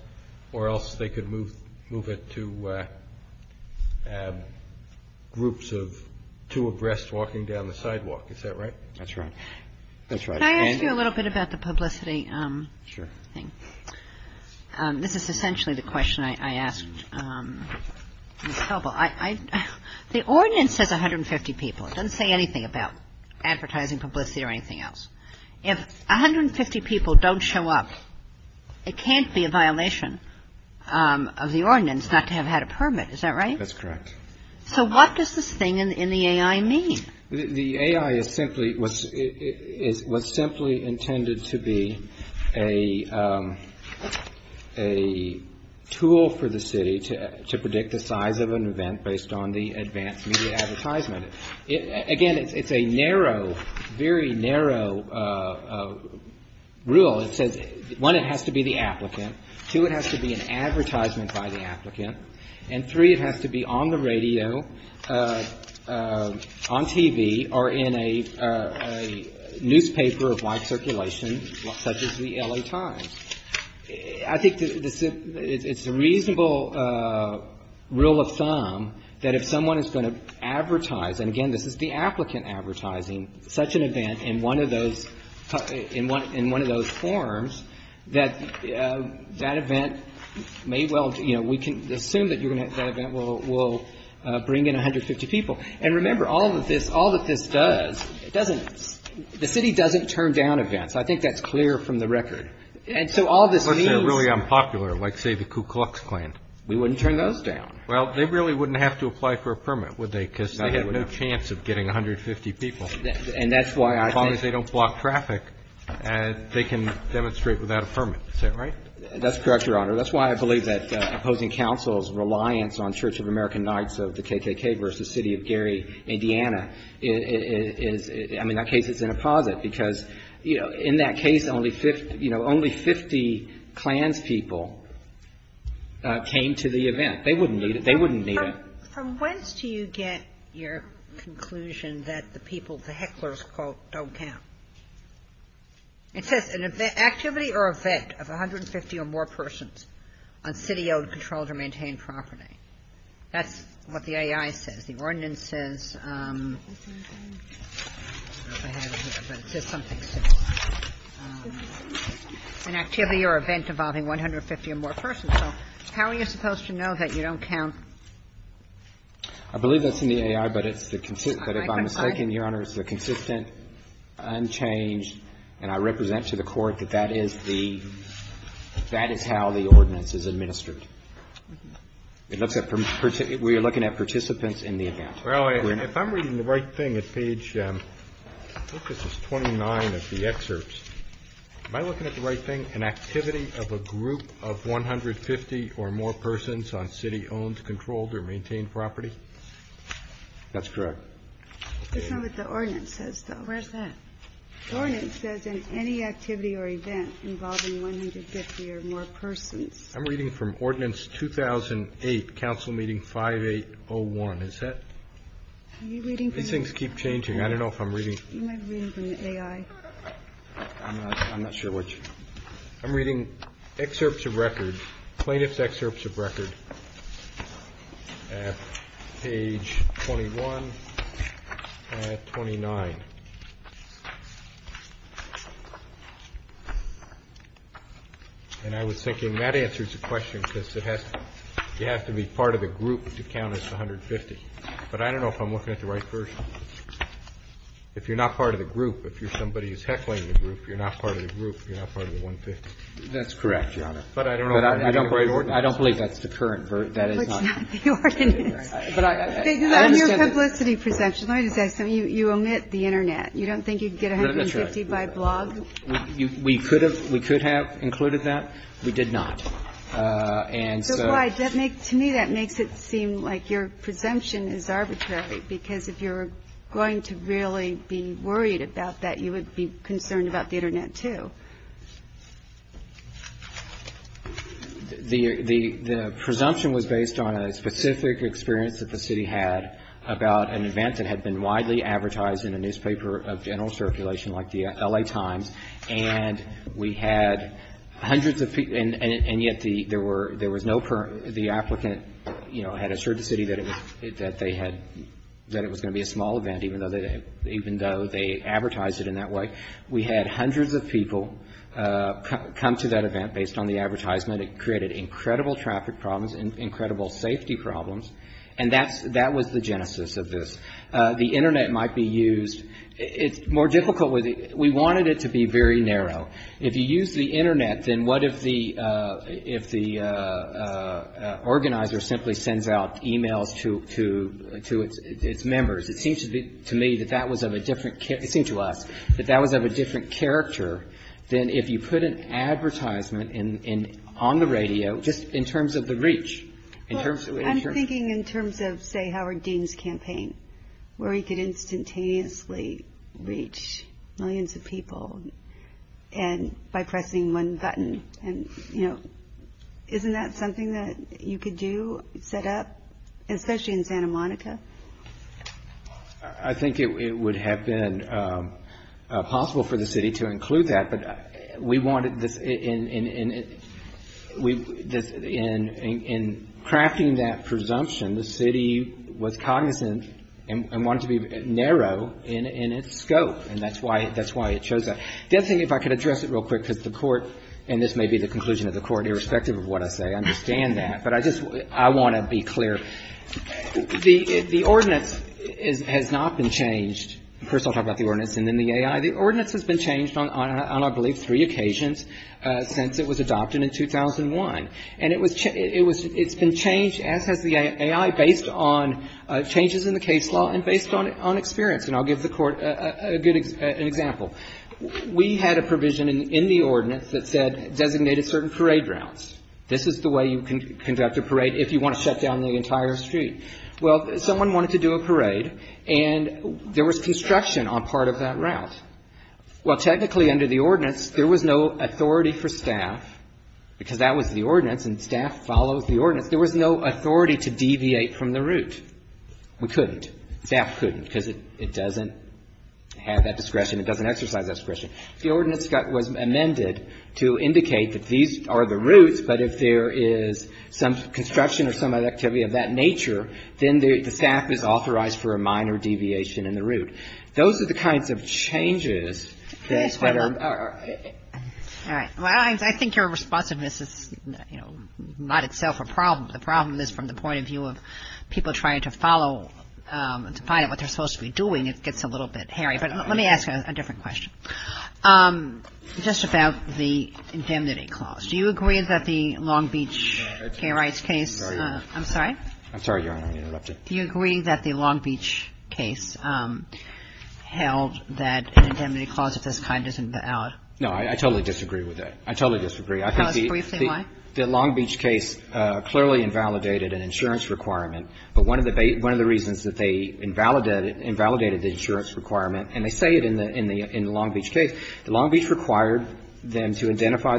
or else they could move, move it to groups of two abreast walking down the sidewalk. Is that right? That's right. That's right. Can I ask you a little bit about the publicity? Sure. Thank you. This is essentially the question I, I asked Ms. Helbel. I, I, the ordinance says 150 people. It doesn't say anything about advertising, publicity, or anything else. If 150 people don't show up, it can't be a violation of the ordinance not to have had a permit. Is that right? That's correct. So what does this thing in, in the AI mean? The AI is simply, was, is, was simply intended to be a, a tool for the city to, to predict the size of an event based on the advanced media advertisement. It, again, it's, it's a narrow, very narrow rule. It says, one, it has to be the applicant. Two, it has to be an advertisement by the applicant. And three, it has to be on the radio, on TV, or in a, a newspaper of wide circulation such as the L.A. Times. I think the, the, it's a reasonable rule of thumb that if someone is going to advertise, and again, this is the applicant advertising such an event in one of those, in one, in one of those forms, that, that event may well, you know, we can assume that you're going to, that event will, will bring in 150 people. And remember, all of this, all that this does, it doesn't, the city doesn't turn down events. I think that's clear from the record. And so all this means. Unless they're really unpopular, like say the Ku Klux Klan. We wouldn't turn those down. Well, they really wouldn't have to apply for a permit, would they? Because they have no chance of getting 150 people. And that's why I think. As long as they don't block traffic, they can demonstrate without a permit. Is that right? That's correct, Your Honor. That's why I believe that opposing counsel's reliance on Church of American Knights of the KKK versus City of Gary, Indiana, is, I mean, that case is in a posit. Because, you know, in that case, only 50, you know, only 50 Klan's people came to the event. They wouldn't need it. They wouldn't need it. But from whence do you get your conclusion that the people, the hecklers, quote, don't count? It says an activity or event of 150 or more persons on city-owned, controlled or maintained property. That's what the A.I. says. The ordinance says, I don't know if I have it here, but it says something similar. An activity or event involving 150 or more persons. So how are you supposed to know that you don't count? I believe that's in the A.I., but it's the consistent. But if I'm mistaken, Your Honor, it's the consistent, unchanged, and I represent to the Court that that is the, that is how the ordinance is administered. It looks at, we are looking at participants in the event. Well, if I'm reading the right thing at page, I think this is 29 of the excerpts. Am I looking at the right thing? An activity of a group of 150 or more persons on city-owned, controlled or maintained property? That's correct. That's not what the ordinance says, though. Where's that? The ordinance says in any activity or event involving 150 or more persons. I'm reading from Ordinance 2008, Council Meeting 5801. Is that? Are you reading from the A.I.? These things keep changing. I don't know if I'm reading. You might be reading from the A.I. I'm not, I'm not sure which. I'm reading excerpts of records, plaintiff's excerpts of records at page 21 and 29. And I was thinking that answers the question because it has, you have to be part of the group to count as 150. But I don't know if I'm looking at the right version. If you're not part of the group, if somebody is heckling the group, you're not part of the group, you're not part of the 150. That's correct, Your Honor. But I don't know if that's the right ordinance. I don't believe that's the current version. That is not. But it's not the ordinance. But I understand. On your publicity presumption, let me just ask something. You omit the Internet. You don't think you could get 150 by blog? That's right. We could have included that. We did not. And so. That makes, to me, that makes it seem like your presumption is arbitrary because if you're going to really be worried about that, you would be concerned about the Internet, too. The presumption was based on a specific experience that the city had about an event that had been widely advertised in a newspaper of general circulation like the L.A. Times. And we had hundreds of people, and yet there was no, the applicant, you know, had assured the city that they had, that it was going to be a small event even though they advertised it in that way. We had hundreds of people come to that event based on the advertisement. It created incredible traffic problems, incredible safety problems. And that was the genesis of this. The Internet might be used. It's more difficult with it. We wanted it to be very narrow. If you use the Internet, then what if the organizer simply sends out emails to its members? It seems to me that that was of a different, it seems to us, that that was of a different character than if you put an advertisement on the radio, just in terms of the reach. I'm thinking in terms of, say, Howard Dean's campaign, where he could instantaneously reach millions of people by pressing one button. And, you know, isn't that something that you could do, set up, especially in Santa Monica? I think it would have been possible for the city to include that, but we wanted this, in crafting that presumption, the city was cognizant and wanted it to be narrow in its scope. And that's why it chose that. The other thing, if I could address it real quick, because the court, and this may be the conclusion of the court, irrespective of what I say, I understand that, but I just, I want to be clear. The ordinance has not been changed. First I'll talk about the ordinance and then the AI. The ordinance has been changed on, I believe, three occasions since it was adopted in 2001. And it was, it's been changed, as has the AI, based on changes in the case law and based on experience. And I'll give the court a good example. We had a provision in the ordinance that said, designated certain parade routes. This is the way you conduct a parade if you want to shut down the entire street. Well, someone wanted to do a parade and there was construction on part of that route. Well, technically, under the ordinance, there was no authority for staff because that was the ordinance and staff follows the ordinance. There was no authority to deviate from the route. We couldn't. Staff couldn't because it doesn't have that discretion. It doesn't exercise that discretion. The ordinance was amended to indicate that these are the routes but if there is some construction or some other activity of that nature, then the staff Those are the kinds of changes that are that are that are that are that are that are that are that are that are that are that are That's what it was supposed to be doing. It gets a little bit hairy. Let me ask you a different question. Just about the indemnity clause. Do you agree that the Long Beach pay rights case I'm sorry you want to interrupt. Do you agree that the Long Beach case held indemnity clause of this kind should be out. No I totally disagree with it. I totally disagree. Tell briefly why. The Long Beach case clearly invalidated an insurance but one of the reasons that they invalidated the insurance requirement and they say it in the Long Beach case. The Long Beach required them to identify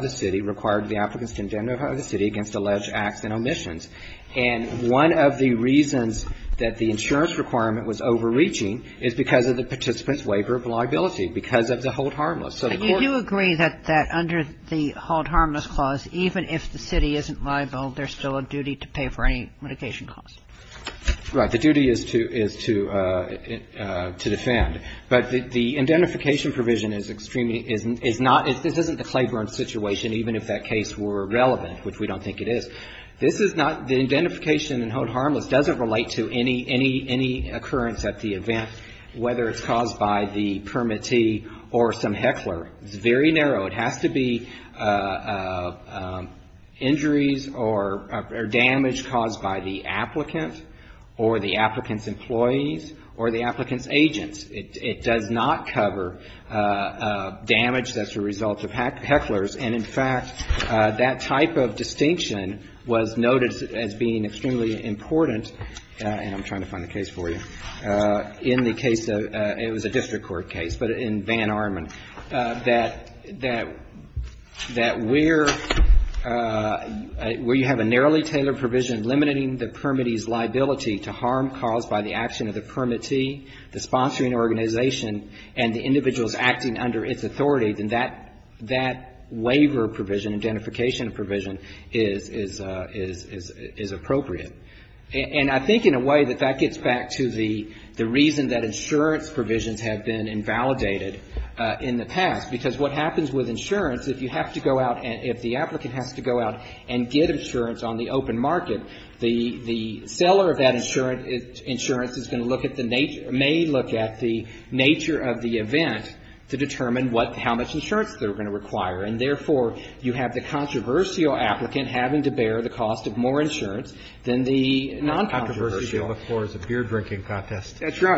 the city required the applicants to identify the city against alleged acts and omissions. And one of the reasons that the insurance requirement was overreaching is because of the participants waiver of liability because of the hold harmless. But you do agree that under the hold harmless clause even if the city isn't liable there's still a duty to pay for any mitigation costs. Right. The duty is to defend. But the identification provision is not this isn't the Claiborne situation even if that case were relevant which we don't think it is. This is not the identification in hold harmless doesn't relate to any occurrence at the event whether it's caused by the injuries or damage caused by the applicant or the applicant's employees or the applicant's agents. It does not cover damage that's a result of hecklers. And in fact that type of distinction was noted as being extremely important and I'm trying to find the case for you in the case it was a district court case but in Van Armand that we're talking about where you have a narrowly tailored provision limiting the permittee's liability to harm caused by the action of the permittee, the sponsoring organization and the individuals acting under its authority then that waiver provision identification provision is appropriate. And I think in a way that that gets back to the reason that insurance provisions have been invalidated in the past because what happens with insurance if you have to go out and get insurance on the open market, the seller of that insurance is going to look at the nature of the event to determine how much it's to cost you.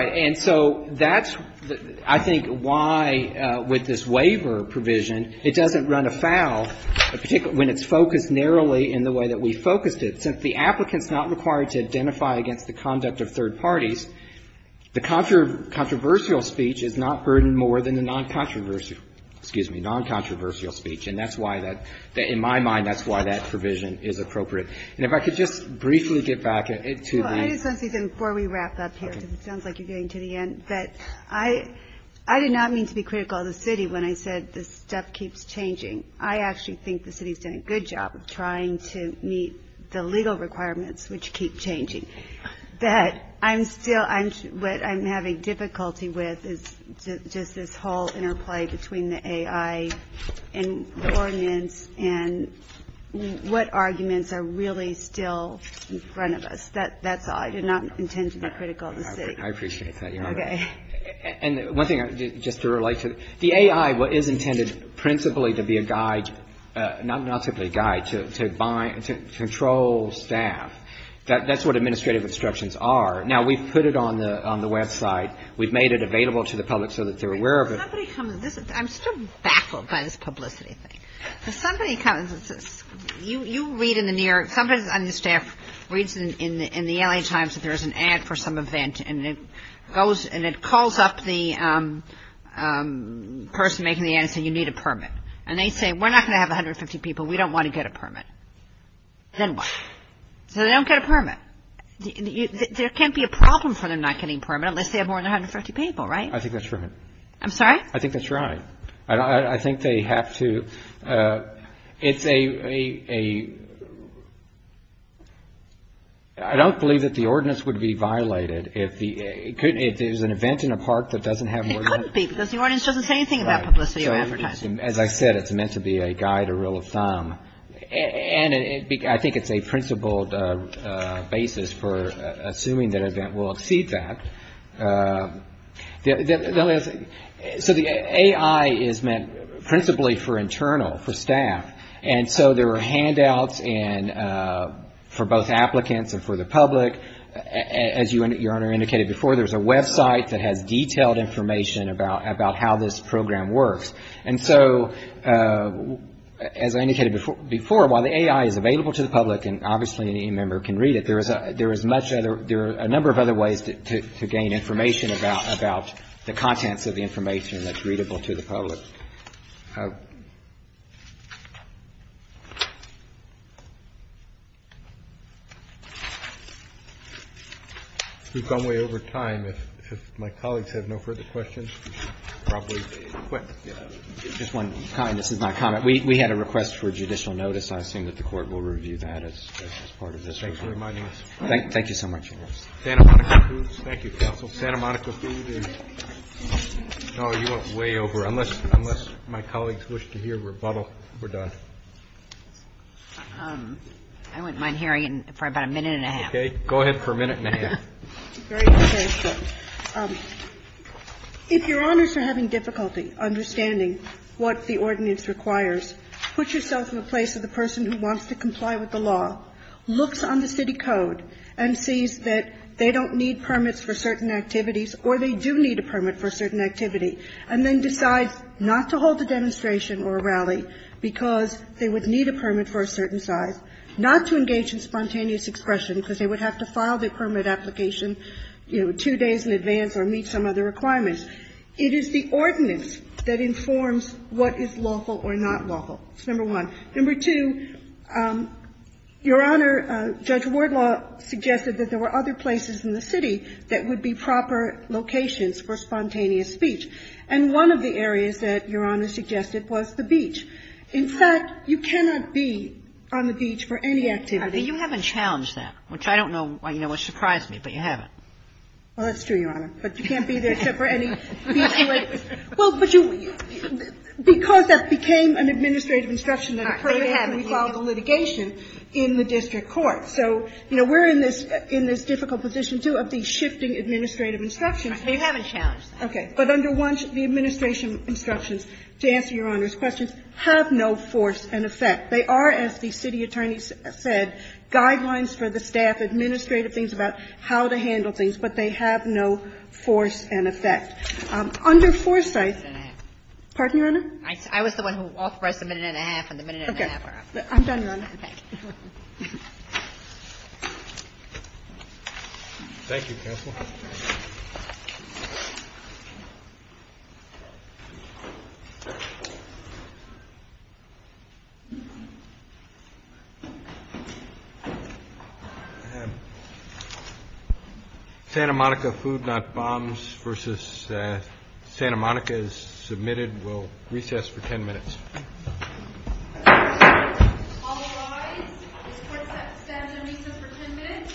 And so that's why with this waiver provision it doesn't run afoul when it's focused narrowly in the way we focused it. The applicant is not required to identify the conduct of the event. I appreciate that. The A.I. is intended principally to be a guide to control staff. That's what administrative instructions are. We've made it available to the public. I'm still baffled by this publicity thing. You read in the New York, somebody on the staff reads in the L.A. Times that there's an ad for some event and it calls up the person making the ad and says you need a permit. And they say we're not going to have 150 people, we don't want to permit. And they don't get a permit. There can't be a problem for them not getting a permit unless they have more than 150 people. I think that's right. I don't believe that the ordinance would be violated. It is an event in a park that doesn't have more than... It couldn't be because the ordinance doesn't say anything about publicity or advertising. As I said, it's meant to be a guide, a rule of thumb. I think it's a principled basis for assuming that an event will exceed that. So the A.I. is meant principally for internal, for staff. So there are handouts for both applicants and for the public. As you indicated before, there's a website that has detailed information about how this program works. So as I indicated before, while the A.I. is available to the public, there are a number of other ways to gain information about the A.I. and the contents of the information that's readable to the public. We've gone way over time. If my colleagues have no further questions, we should probably quit. Just one comment. This is my comment. We had a request for judicial notice. I assume that the Court will review that as part of this. Thank you so much. Thank you, Counsel. Santa Monica Food is way over. Unless my colleagues wish to hear rebuttal, we're done. I wouldn't mind hearing it for about a minute and a half. Okay. Go ahead for a minute and a half. If your client wants to comply with the law, looks on the city code, and sees that they don't need permits for certain activities, or they do need a permit for a certain activity, and then decides not to hold a demonstration or a rally because they would need a permit for a certain activity, your Honor, Judge Wardlaw suggested that there were other places in the city that would be proper locations for spontaneous speech. And one of the areas that your Honor suggested was the beach. In fact, you cannot be on the beach for any activity. You haven't challenged that, which I don't know why you know it surprised me, but you haven't. Well, that's true, your Honor, but you can't be there except for any beach. Well, but you, because that became an administrative instruction that occurred after we filed the litigation in the district court. So, you know, we're in this difficult position, too, of these shifting administrative instructions. They haven't challenged that. Okay. But under one, the administration instructions, to answer your Honor's questions, have no force and effect. They are, as the city attorney said, guidelines for the staff, administrative things about how to handle things, but they have no force and effect. Under Forsythe, pardon, your Honor? I was the Okay. Thank you. Thank you. Thank you. Thank you. Thank you. Thank you. I have Santa Monica Food Not Bombs versus Santa Monica is submitted. We'll recess for ten minutes. All rise. This court stands in recess for ten minutes. All rise. stands in recess for ten minutes.